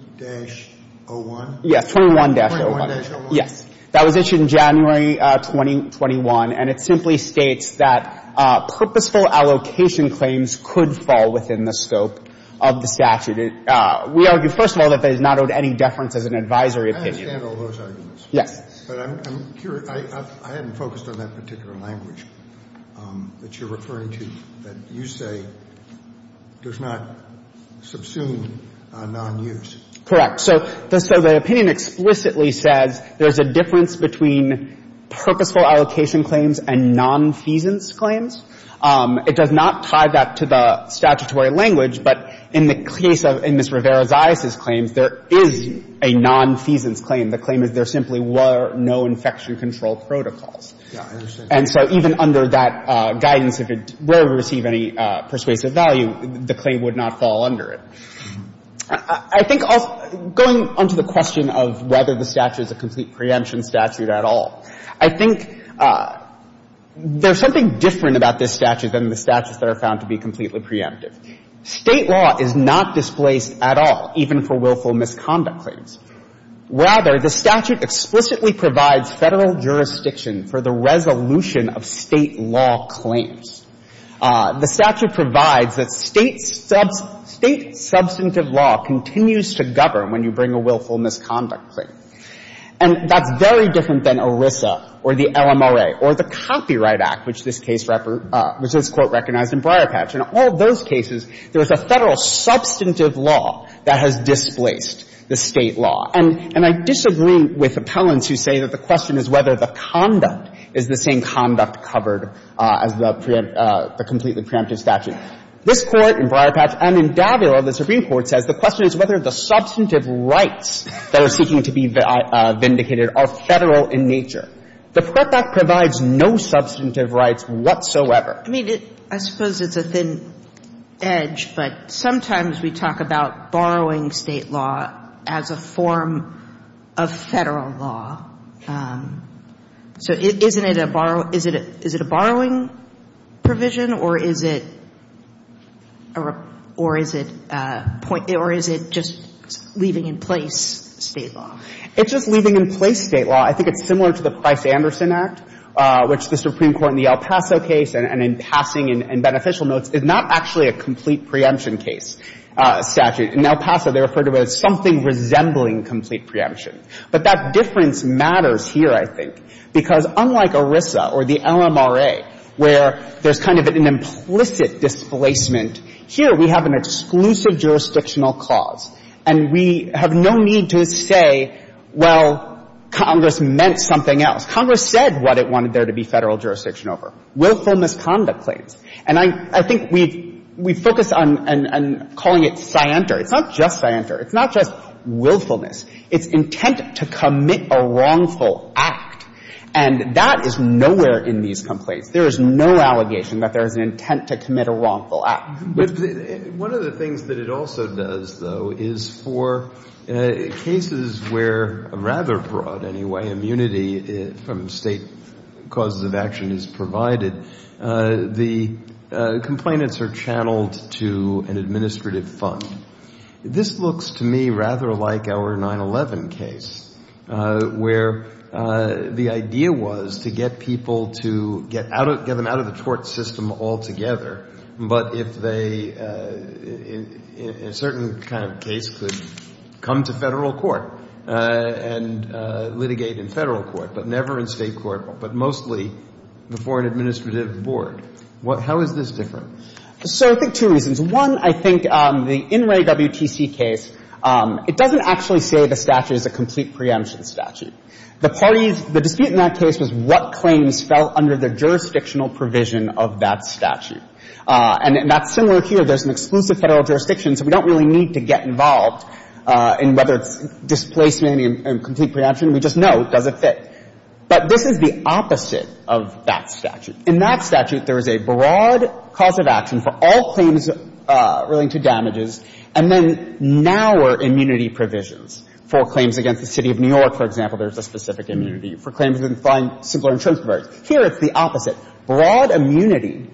Yes, 21-01. 21-01. Yes. That was issued in January 2021, and it simply states that purposeful allocation claims could fall within the scope of the statute. We argue, first of all, that that does not owe any deference as an advisory opinion. I understand all those arguments. Yes. But I'm curious. I haven't focused on that particular language that you're referring to, that you say does not subsume nonuse. Correct. So the opinion explicitly says there's a difference between purposeful allocation claims and nonfeasance claims. It does not tie that to the statutory language, but in the case of — in Ms. Rivera-Zias's claims, there is a nonfeasance claim. The claim is there simply were no infection control protocols. Yeah, I understand. And so even under that guidance, if it — where we receive any persuasive value, the claim would not fall under it. I think also — going on to the question of whether the statute is a complete preemption statute at all, I think there's something different about this statute than the statutes that are found to be completely preemptive. State law is not displaced at all, even for willful misconduct claims. Rather, the statute explicitly provides Federal jurisdiction for the resolution of State law claims. The statute provides that State substantive law continues to govern when you bring a willful misconduct claim. And that's very different than ERISA or the LMRA or the Copyright Act, which this case — which this Court recognized in Briarpatch. In all those cases, there was a Federal substantive law that has displaced the State law. And I disagree with appellants who say that the question is whether the conduct is the same conduct covered as the completely preemptive statute. This Court in Briarpatch and in Davila, the Supreme Court, says the question is whether the substantive rights that are seeking to be vindicated are Federal in nature. The Prep Act provides no substantive rights whatsoever. I mean, it — I suppose it's a thin edge, but sometimes we talk about borrowing State law as a form of Federal law. So isn't it a borrow — is it a borrowing provision, or is it a — or is it a — or is it just leaving in place State law? It's just leaving in place State law. I think it's similar to the Price-Anderson Act, which the Supreme Court in the El Paso case and in passing in beneficial notes is not actually a complete preemption case statute. In El Paso, they referred to it as something resembling complete preemption. But that difference matters here, I think, because unlike ERISA or the LMRA, where there's kind of an implicit displacement, here we have an exclusive jurisdictional cause, and we have no need to say, well, Congress meant something else. Congress said what it wanted there to be Federal jurisdiction over, willfulness conduct claims. And I — I think we've — we focus on calling it scienter. It's not just scienter. It's not just willfulness. It's intent to commit a wrongful act. And that is nowhere in these complaints. There is no allegation that there is an intent to commit a wrongful act. One of the things that it also does, though, is for cases where rather broad, anyway, immunity from State causes of action is provided, the complainants are channeled to an administrative fund. This looks to me rather like our 9-11 case, where the idea was to get people to get them out of the court system altogether, but if they, in a certain kind of case, could come to Federal court and litigate in Federal court, but never in State court, but mostly before an administrative board. How is this different? So I think two reasons. One, I think the In re WTC case, it doesn't actually say the statute is a complete preemption statute. The parties, the dispute in that case was what claims fell under the jurisdictional provision of that statute. And that's similar here. There's an exclusive Federal jurisdiction, so we don't really need to get involved in whether it's displacement and complete preemption. We just know it doesn't fit. But this is the opposite of that statute. In that statute, there is a broad cause of action for all claims relating to damages, and then narrower immunity provisions. For claims against the City of New York, for example, there's a specific immunity. For claims in fine, similar insurance providers. Here, it's the opposite. Broad immunity,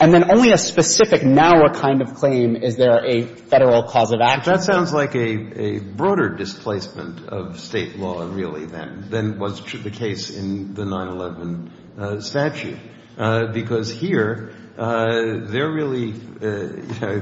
and then only a specific, narrower kind of claim is there a Federal cause of action. That sounds like a broader displacement of State law, really, than was the case in the 9-11 statute. But it's a broad cause of action, because here, they're really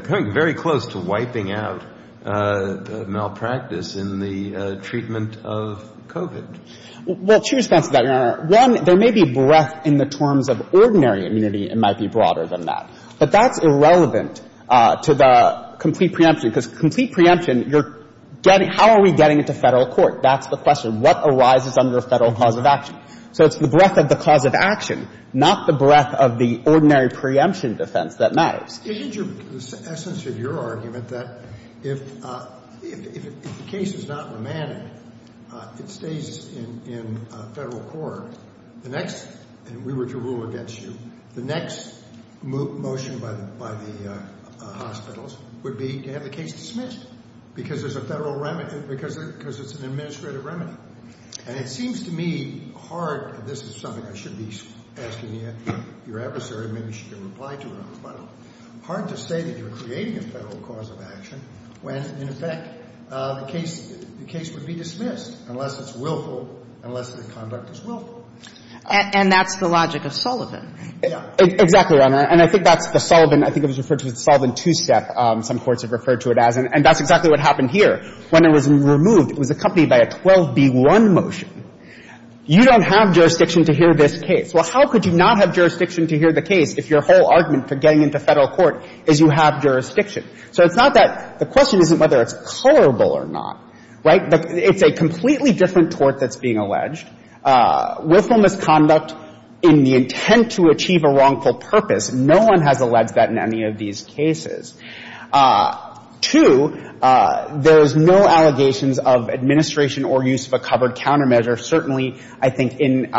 coming very close to wiping out malpractice in the treatment of COVID. Well, two responses to that, Your Honor. One, there may be breadth in the terms of ordinary immunity. It might be broader than that. But that's irrelevant to the complete preemption, because complete preemption, you're getting — how are we getting it to Federal court? That's the question. What arises under Federal cause of action? So it's the breadth of the cause of action, not the breadth of the ordinary preemption defense that matters. Isn't your — the essence of your argument that if the case is not remanded, it stays in Federal court, the next — and we were to rule against you — the next motion by the hospitals would be to have the case dismissed, because there's a Federal remedy — because it's an administrative remedy. And it seems to me hard — and this is something I should be asking your adversary, maybe she can reply to it on the phone — hard to say that you're creating a Federal cause of action when, in effect, the case would be dismissed unless it's willful, unless the conduct is willful. And that's the logic of Sullivan. Yeah. Exactly, Your Honor. And I think that's the Sullivan — I think it was referred to as the Sullivan two-step, some courts have referred to it as. And that's exactly what happened here. When it was removed, it was accompanied by a 12b-1 motion. You don't have jurisdiction to hear this case. Well, how could you not have jurisdiction to hear the case if your whole argument for getting into Federal court is you have jurisdiction? So it's not that — the question isn't whether it's colorable or not, right? But it's a completely different tort that's being alleged. Willful misconduct in the intent to achieve a wrongful purpose, no one has alleged that in any of these cases. Two, there is no allegations of administration or use of a covered countermeasure. Certainly, I think in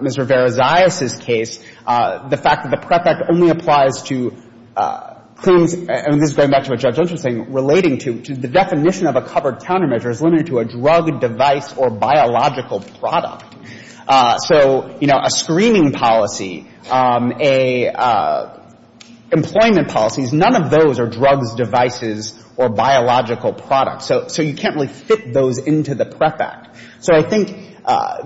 Ms. Rivera-Zayas' case, the fact that the prep act only applies to — and this is going back to what Judge Unge was saying — relating to the definition of a covered countermeasure is limited to a drug, device, or biological product. So, you know, a screening policy, a — employment policies, none of those are drugs, devices, or biological products. So you can't really fit those into the prep act. So I think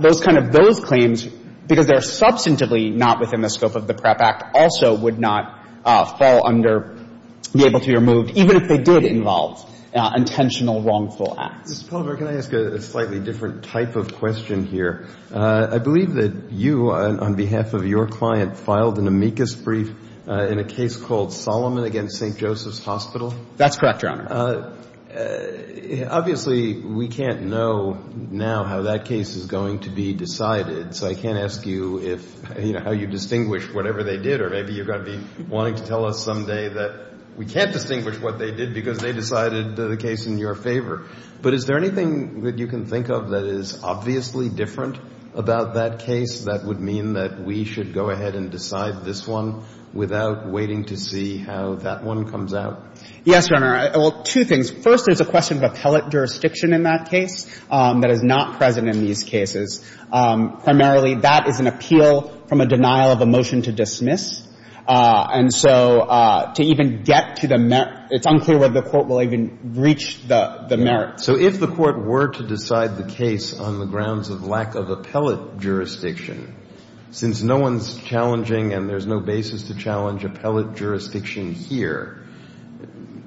those kind of — those claims, because they're substantively not within the scope of the prep act, also would not fall under — be able to be removed, even if they did involve intentional wrongful acts. Mr. Palmer, can I ask a slightly different type of question here? I believe that you, on behalf of your client, filed an amicus brief in a case called Solomon v. St. Joseph's Hospital. That's correct, Your Honor. Obviously, we can't know now how that case is going to be decided. So I can't ask you if — you know, how you distinguish whatever they did, or maybe you're going to be wanting to tell us someday that we can't distinguish what they did because they decided the case in your favor. But is there anything that you can think of that is obviously different about that case that would mean that we should go ahead and decide this one without waiting to see how that one comes out? Yes, Your Honor. Well, two things. First, there's a question of appellate jurisdiction in that case that is not present in these cases. Primarily, that is an appeal from a denial of a motion to dismiss. And so to even get to the — it's unclear whether the court will even reach the merits. So if the court were to decide the case on the grounds of lack of appellate jurisdiction, since no one's challenging and there's no basis to challenge appellate jurisdiction here,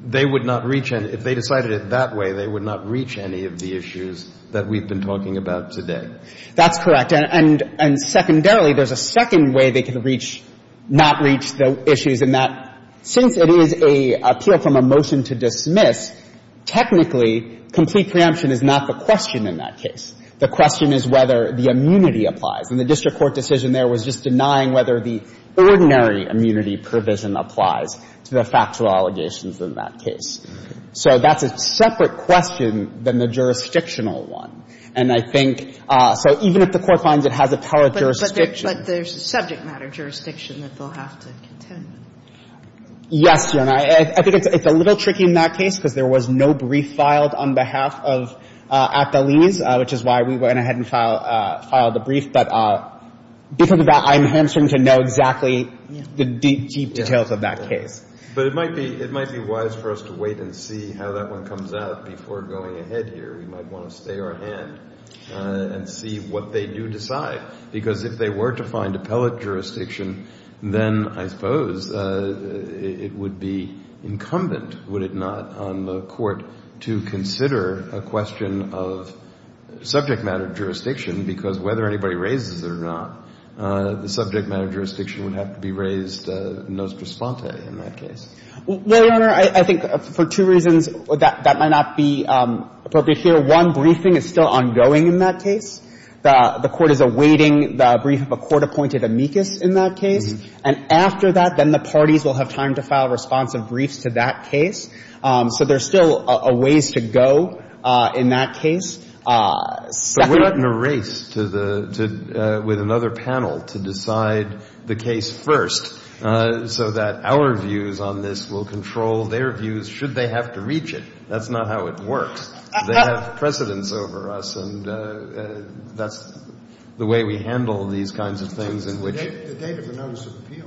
they would not reach — if they decided it that way, they would not reach any of the issues that we've been talking about today. That's correct. And secondarily, there's a second way they could reach — not reach the issues in that, since it is an appeal from a motion to dismiss, technically, complete preemption is not the question in that case. The question is whether the immunity applies. And the district court decision there was just denying whether the ordinary immunity provision applies to the factual allegations in that case. So that's a separate question than the jurisdictional one. And I think — so even if the court finds it has appellate jurisdiction. But there's subject matter jurisdiction that they'll have to contend with. Yes, Your Honor. I think it's a little tricky in that case because there was no brief filed on behalf of Appellinis, which is why we went ahead and filed a brief. But because of that, I'm answering to know exactly the deep, deep details of that case. But it might be — it might be wise for us to wait and see how that one comes out before going ahead here. We might want to stay our hand and see what they do decide. Because if they were to find appellate jurisdiction, then I suppose it would be incumbent, would it not, on the Court to consider a question of subject matter jurisdiction because whether anybody raises it or not, the subject matter jurisdiction would have to be raised nostrisponte in that case. Well, Your Honor, I think for two reasons that might not be appropriate here. One, briefing is still ongoing in that case. The Court is awaiting the brief of a court-appointed amicus in that case. And after that, then the parties will have time to file responsive briefs to that case. So there's still a ways to go in that case. But we're not in a race to the — with another panel to decide the case first so that our views on this will control their views should they have to reach it. That's not how it works. They have precedence over us, and that's the way we handle these kinds of things in which — The date of the notice of appeal.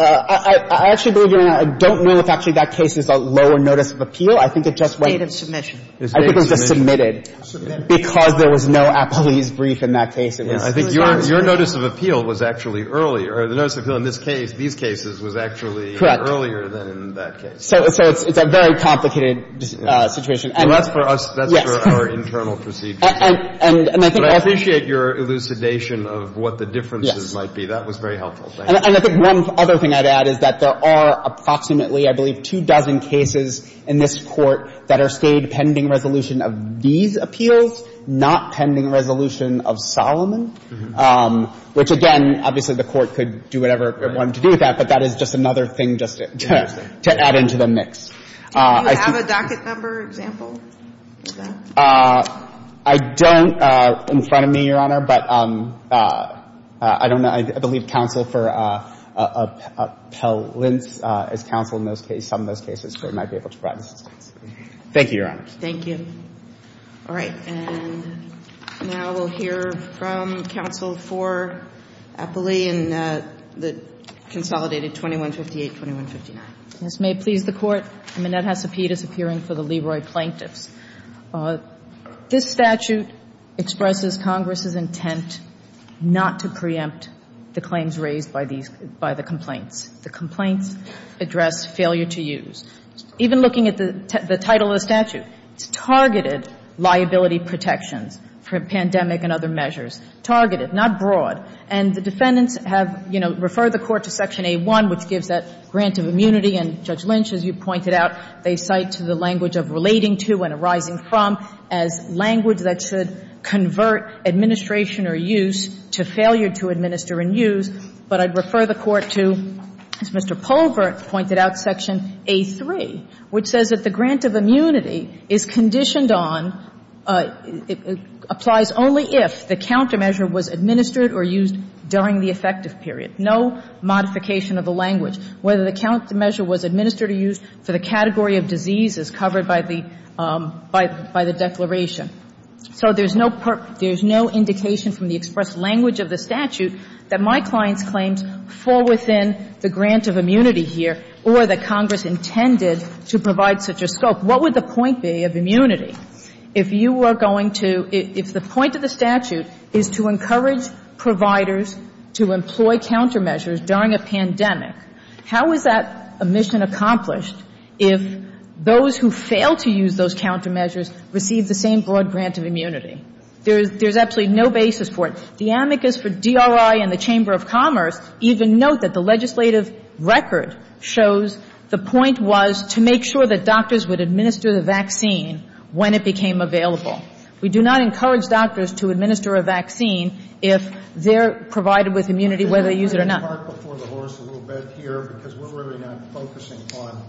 I actually believe, Your Honor, I don't know if actually that case is a lower notice of appeal. I think it just went — Date of submission. I think it was just submitted. Submitted. Because there was no appellee's brief in that case. I think your notice of appeal was actually earlier. The notice of appeal in this case, these cases, was actually earlier than in that case. Correct. So it's a very complicated situation. Well, that's for us — Yes. That's for our internal procedures. And I think also — But I appreciate your elucidation of what the differences might be. Yes. That was very helpful. Thank you. And I think one other thing I'd add is that there are approximately, I believe, two dozen cases in this Court that are State pending resolution of these appeals, not pending resolution of Solomon, which, again, obviously the Court could do whatever it wanted to do with that, but that is just another thing just to add into the mix. Do you have a docket number example of that? I don't in front of me, Your Honor, but I don't know. I believe counsel for appellants is counsel in those cases, some of those cases, so I might be able to provide assistance. Thank you, Your Honor. Thank you. All right. And now we'll hear from counsel for appellee in the consolidated 2158, 2159. Ms. May, please. The Court. Annette Hesapidis appearing for the Leroy plaintiffs. This statute expresses Congress's intent not to preempt the claims raised by these — by the complaints. The complaints address failure to use. Even looking at the title of the statute, it's targeted liability protections for pandemic and other measures. Targeted, not broad. And the defendants have, you know, referred the Court to Section A-1, which gives that grant of immunity, and Judge Lynch, as you pointed out, they cite to the language of relating to and arising from as language that should convert administration or use to failure to administer and use. But I'd refer the Court to, as Mr. Polvert pointed out, Section A-3, which says that the grant of immunity is conditioned on, applies only if the countermeasure was administered or used during the effective period. No modification of the language. Whether the countermeasure was administered or used for the category of disease is covered by the Declaration. So there's no indication from the expressed language of the statute that my client's claims fall within the grant of immunity here or that Congress intended to provide such a scope. What would the point be of immunity if you are going to — if the point of the statute is to encourage providers to employ countermeasures during a pandemic, how is that a mission accomplished if those who fail to use those countermeasures receive the same broad grant of immunity? There's absolutely no basis for it. The amicus for DRI and the Chamber of Commerce even note that the legislative record shows the point was to make sure that doctors would administer the vaccine when it became available. We do not encourage doctors to administer a vaccine if they're provided with immunity whether they use it or not. I'm going to park before the horse a little bit here because we're really not focusing on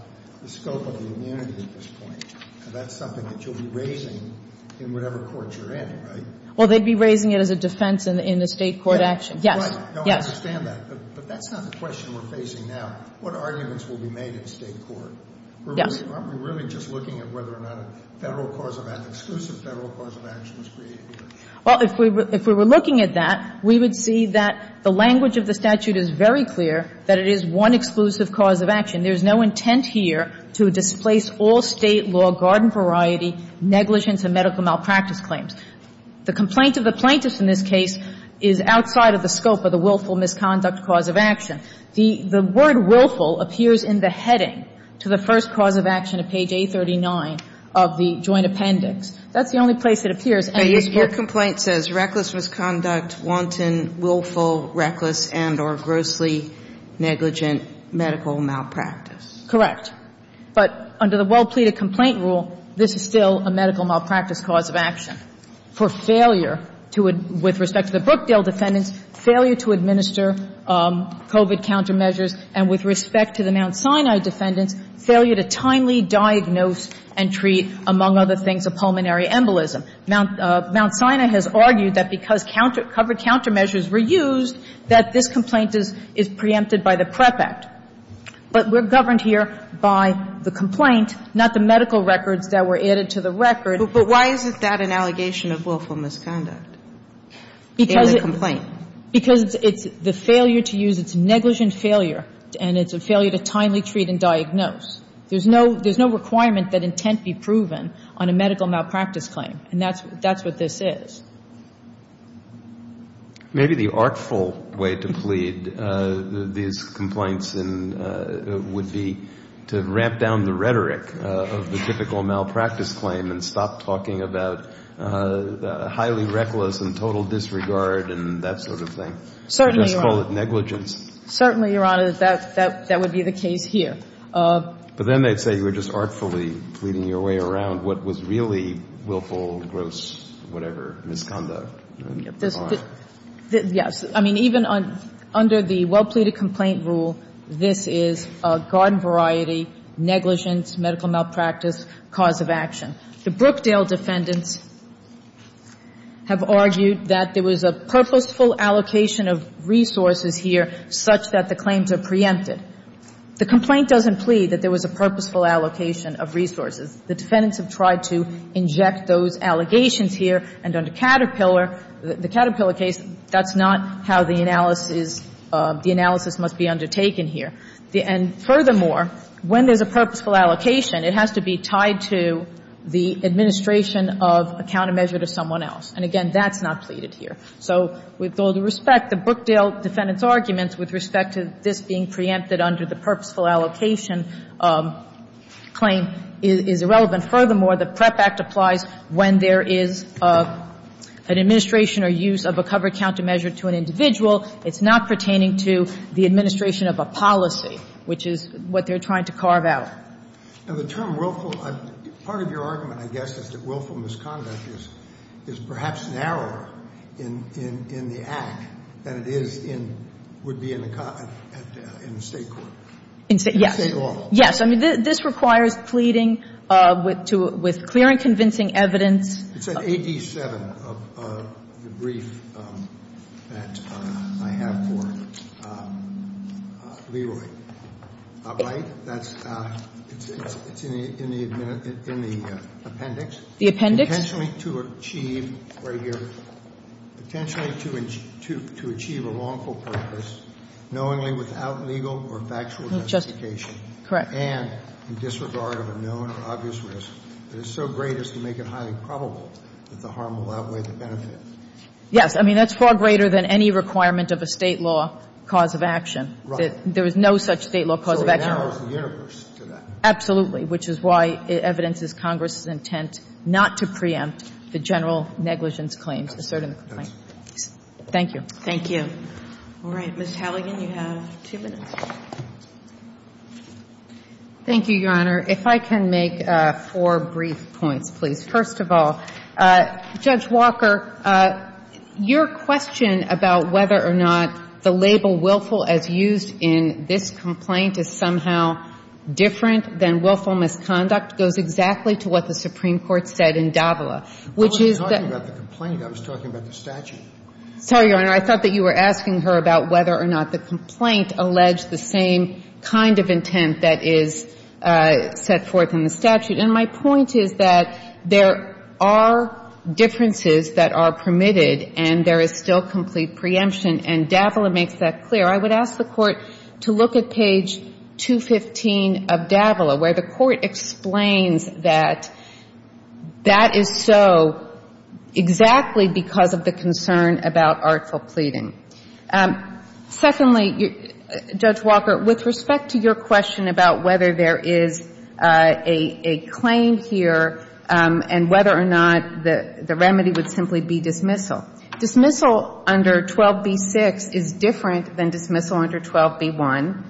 the scope of the immunity at this point. That's something that you'll be raising in whatever court you're in, right? Well, they'd be raising it as a defense in the State court action. Yes. Right. Yes. I understand that. But that's not the question we're facing now. What arguments will be made in State court? Yes. Aren't we really just looking at whether or not a Federal cause of — an exclusive Federal cause of action was created here? Well, if we were looking at that, we would see that the language of the statute is very clear that it is one exclusive cause of action. There's no intent here to displace all State law, garden variety, negligence and medical malpractice claims. The complaint of the plaintiff in this case is outside of the scope of the willful misconduct cause of action. The word willful appears in the heading to the first cause of action at page 839 of the joint appendix. That's the only place it appears. Your complaint says reckless misconduct, wanton, willful, reckless, and or grossly negligent medical malpractice. Correct. But under the well-pleaded complaint rule, this is still a medical malpractice cause of action for failure to — with respect to the Brookdale defendants, failure to administer COVID countermeasures, and with respect to the Mount Sinai defendants, failure to timely diagnose and treat, among other things, a pulmonary embolism. Mount Sinai has argued that because counter — covered countermeasures were used, that this complaint is preempted by the PREP Act. But we're governed here by the complaint, not the medical records that were added to the record. But why is that an allegation of willful misconduct in the complaint? Because it's the failure to use — it's negligent failure, and it's a failure to timely treat and diagnose. There's no — there's no requirement that intent be proven on a medical malpractice claim, and that's what this is. Maybe the artful way to plead these complaints would be to ramp down the rhetoric of the typical malpractice claim and stop talking about highly reckless and total disregard and that sort of thing. Certainly, Your Honor. Just call it negligence. Certainly, Your Honor, that would be the case here. But then they'd say you were just artfully pleading your way around what was really willful, gross, whatever misconduct. Yes. I mean, even under the well-pleaded complaint rule, this is a garden variety, negligence, medical malpractice, cause of action. The Brookdale defendants have argued that there was a purposeful allocation of resources here such that the claims are preempted. The complaint doesn't plead that there was a purposeful allocation of resources. The defendants have tried to inject those allegations here. And under Caterpillar, the Caterpillar case, that's not how the analysis — the analysis must be undertaken here. And furthermore, when there's a purposeful allocation, it has to be tied to the administration of a countermeasure to someone else. And again, that's not pleaded here. So with all due respect, the Brookdale defendants' arguments with respect to this being preempted under the purposeful allocation claim is irrelevant. Furthermore, the PREP Act applies when there is an administration or use of a covered countermeasure to an individual. It's not pertaining to the administration of a policy, which is what they're trying to carve out. Now, the term willful — part of your argument, I guess, is that willful misconduct is perhaps narrower in the Act than it is in — would be in the State court. In State law. Yes. Yes. I mean, this requires pleading with clear and convincing evidence. It's in AD 7, the brief that I have for Leroy, right? It's in the appendix. The appendix. Potentially to achieve — right here. Potentially to achieve a lawful purpose knowingly without legal or factual justification. Correct. And in disregard of a known or obvious risk that is so great as to make it highly probable that the harm will outweigh the benefit. Yes. I mean, that's far greater than any requirement of a State law cause of action. Right. There is no such State law cause of action. So it narrows the universe to that. Absolutely. Which is why evidence is Congress's intent not to preempt the general negligence claims asserting the complaint. Thank you. Thank you. All right. Ms. Halligan, you have two minutes. Thank you, Your Honor. If I can make four brief points, please. First of all, Judge Walker, your question about whether or not the label willful as used in this complaint is somehow different than willful misconduct goes exactly to what the Supreme Court said in Davila, which is that — I wasn't talking about the complaint. I was talking about the statute. Sorry, Your Honor. I thought that you were asking her about whether or not the complaint alleged the same kind of intent that is set forth in the statute. And my point is that there are differences that are permitted and there is still complete preemption. And Davila makes that clear. I would ask the Court to look at page 215 of Davila, where the Court explains that that is so exactly because of the concern about artful pleading. Secondly, Judge Walker, with respect to your question about whether there is a claim here and whether or not the remedy would simply be dismissal, dismissal under 12bc 6 is different than dismissal under 12b1.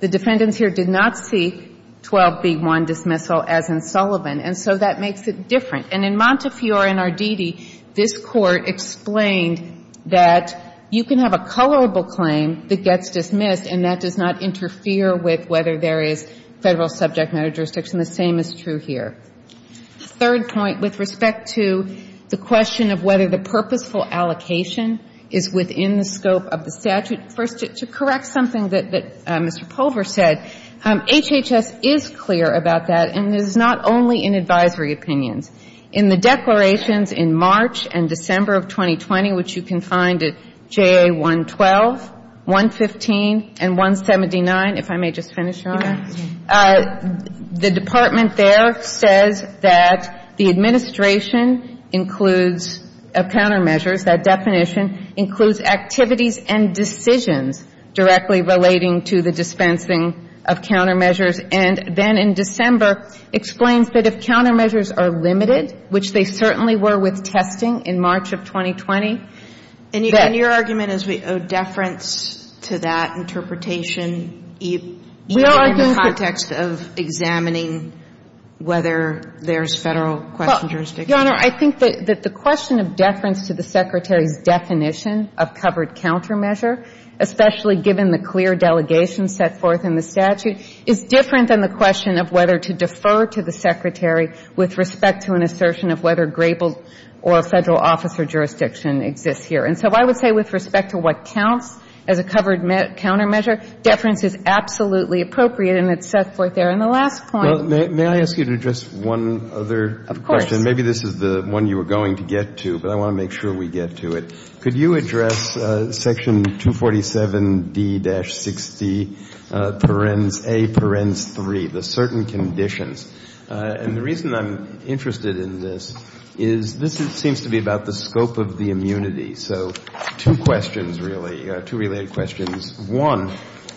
The defendants here did not seek 12b1 dismissal as in Sullivan, and so that makes it different. And in Montefiore and Arditi, this Court explained that you can have a colorable claim that gets dismissed and that does not interfere with whether there is federal subject matter jurisdiction. The same is true here. Third point, with respect to the question of whether the purposeful allocation is within the scope of the statute, first, to correct something that Mr. Pulver said, HHS is clear about that, and it is not only in advisory opinions. In the declarations in March and December of 2020, which you can find at JA 112, 115, and 179, if I may just finish, Your Honor, the department there says that the purposeful allocation includes activities and decisions directly relating to the dispensing of countermeasures. And then in December, explains that if countermeasures are limited, which they certainly were with testing in March of 2020, then your argument is we owe deference to that interpretation even in the context of examining whether there is federal question jurisdiction. Your Honor, I think that the question of deference to the Secretary's definition of covered countermeasure, especially given the clear delegation set forth in the statute, is different than the question of whether to defer to the Secretary with respect to an assertion of whether Grapel or federal officer jurisdiction exists here. And so I would say with respect to what counts as a covered countermeasure, deference is absolutely appropriate and it's set forth there. And the last point. Well, may I ask you to address one other question? Of course. Maybe this is the one you were going to get to, but I want to make sure we get to it. Could you address section 247D-60, parens A, parens 3, the certain conditions? And the reason I'm interested in this is this seems to be about the scope of the immunity. So two questions, really, two related questions. One,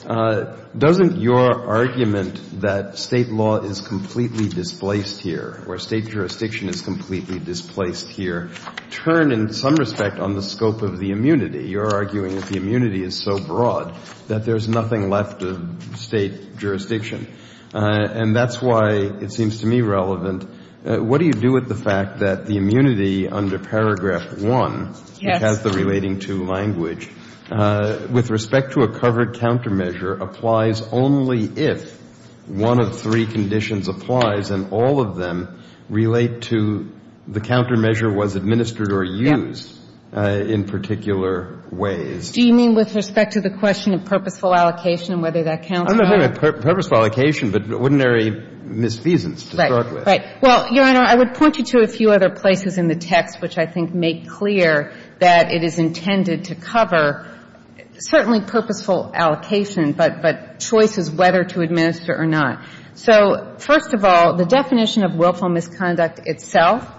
doesn't your argument that State law is completely displaced here or State jurisdiction is completely displaced here turn in some respect on the scope of the immunity? You're arguing that the immunity is so broad that there's nothing left of State jurisdiction. And that's why it seems to me relevant. What do you do with the fact that the immunity under paragraph 1 has the relating to language? With respect to a covered countermeasure applies only if one of three conditions applies and all of them relate to the countermeasure was administered or used in particular ways. Do you mean with respect to the question of purposeful allocation and whether that counts? I'm not talking about purposeful allocation, but ordinary misfeasance to start with. Right, right. Well, Your Honor, I would point you to a few other places in the text which I think make clear that it is intended to cover certainly purposeful allocation, but choices whether to administer or not. So first of all, the definition of willful misconduct itself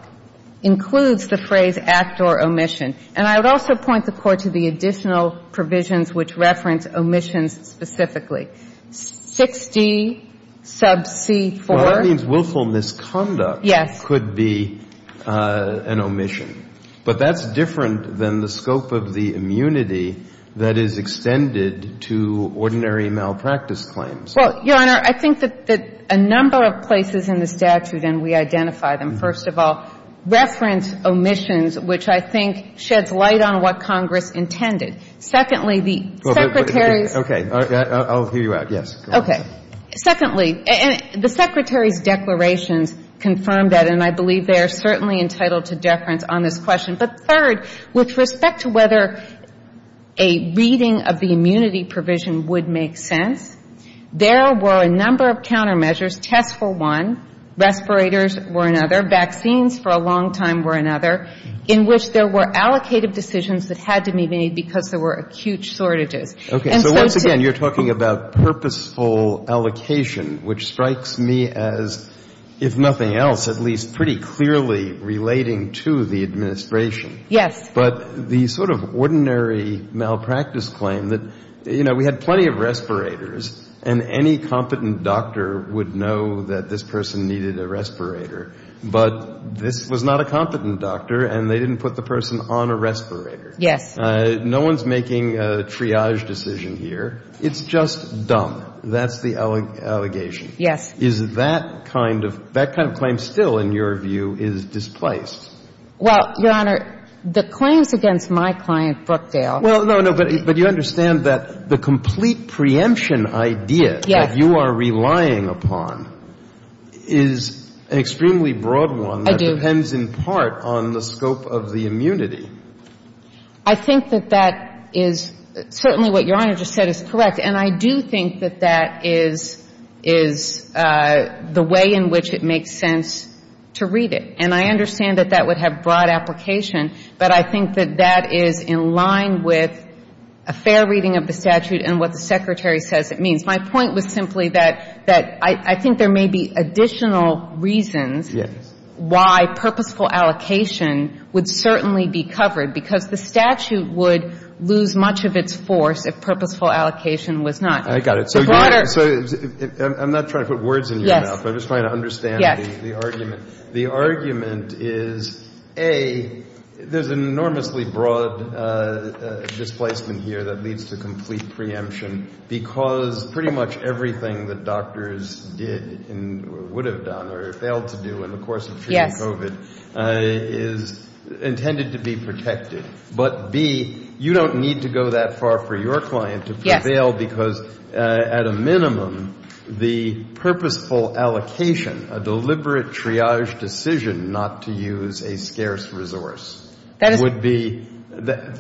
includes the phrase act or omission. And I would also point the Court to the additional provisions which reference omissions specifically. 6D sub C4. Well, that means willful misconduct could be an omission. But that's different than the scope of the immunity that is extended to ordinary malpractice claims. Well, Your Honor, I think that a number of places in the statute, and we identify them, first of all, reference omissions, which I think sheds light on what Congress intended. Secondly, the Secretary's. Okay. I'll hear you out. Yes. Okay. Secondly, the Secretary's declarations confirm that, and I believe they are certainly entitled to deference on this question. But third, with respect to whether a reading of the immunity provision would make sense, there were a number of countermeasures. Tests were one. Respirators were another. Vaccines for a long time were another. In which there were allocated decisions that had to be made because there were acute shortages. Okay. So once again, you're talking about purposeful allocation, which strikes me as, if relating to the administration. Yes. But the sort of ordinary malpractice claim that, you know, we had plenty of respirators and any competent doctor would know that this person needed a respirator, but this was not a competent doctor and they didn't put the person on a respirator. Yes. No one's making a triage decision here. It's just dumb. That's the allegation. Yes. Is that kind of claim still, in your view, is displaced? Well, Your Honor, the claims against my client, Brookdale. Well, no, no. But you understand that the complete preemption idea that you are relying upon is an extremely broad one. I do. That depends in part on the scope of the immunity. I think that that is certainly what Your Honor just said is correct. And I do think that that is the way in which it makes sense to read it. And I understand that that would have broad application, but I think that that is in line with a fair reading of the statute and what the Secretary says it means. My point was simply that I think there may be additional reasons why purposeful allocation would certainly be covered, because the statute would lose much of its force if purposeful allocation was not. I got it. So I'm not trying to put words in your mouth. I'm just trying to understand the argument. The argument is, A, there's an enormously broad displacement here that leads to complete preemption, because pretty much everything that doctors did or would have done or failed to do in the course of treating COVID is intended to be protected. But, B, you don't need to go that far for your client to prevail because at a minimum the purposeful allocation, a deliberate triage decision not to use a scarce resource would be,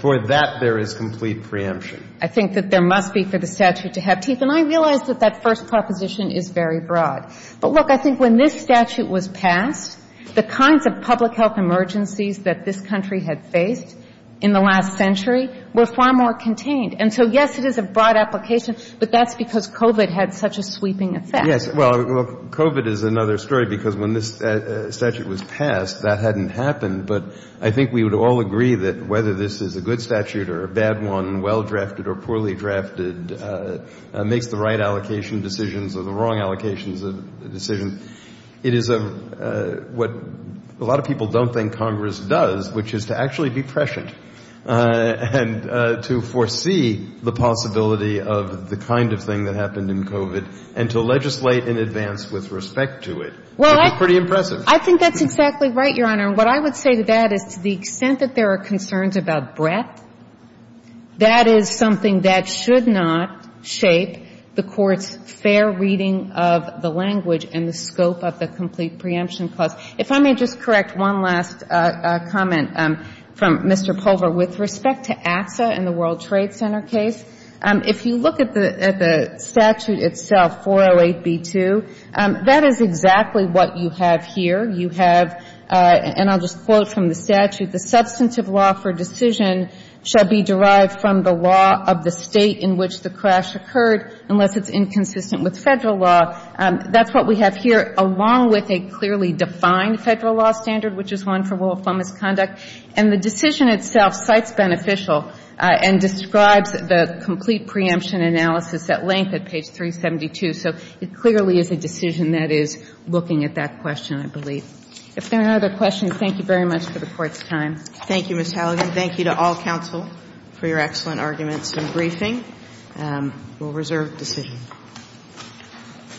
for that there is complete preemption. I think that there must be for the statute to have teeth. And I realize that that first proposition is very broad. But, look, I think when this statute was passed, the kinds of public health emergencies that this country had faced in the last century were far more contained. And so, yes, it is a broad application. But that's because COVID had such a sweeping effect. Yes. Well, COVID is another story, because when this statute was passed, that hadn't happened. But I think we would all agree that whether this is a good statute or a bad one, well-drafted or poorly drafted, makes the right allocation decisions or the wrong allocations of decisions. It is what a lot of people don't think Congress does, which is to actually be prescient and to foresee the possibility of the kind of thing that happened in COVID and to legislate in advance with respect to it. Well, I think that's exactly right, Your Honor. And what I would say to that is to the extent that there are concerns about breadth, that is something that should not shape the Court's fair reading of the language and the scope of the Complete Preemption Clause. If I may just correct one last comment from Mr. Pulver with respect to ATSA and the World Trade Center case. If you look at the statute itself, 408b2, that is exactly what you have here. You have, and I'll just quote from the statute, the substantive law for decision shall be derived from the law of the state in which the crash occurred unless it's inconsistent with Federal law. That's what we have here, along with a clearly defined Federal law standard, which is one for lawful misconduct. And the decision itself cites beneficial and describes the complete preemption analysis at length at page 372. So it clearly is a decision that is looking at that question, I believe. If there are no other questions, thank you very much for the Court's time. Thank you, Ms. Halligan. Thank you to all counsel for your excellent arguments and briefing. We'll reserve the decision. Thank you.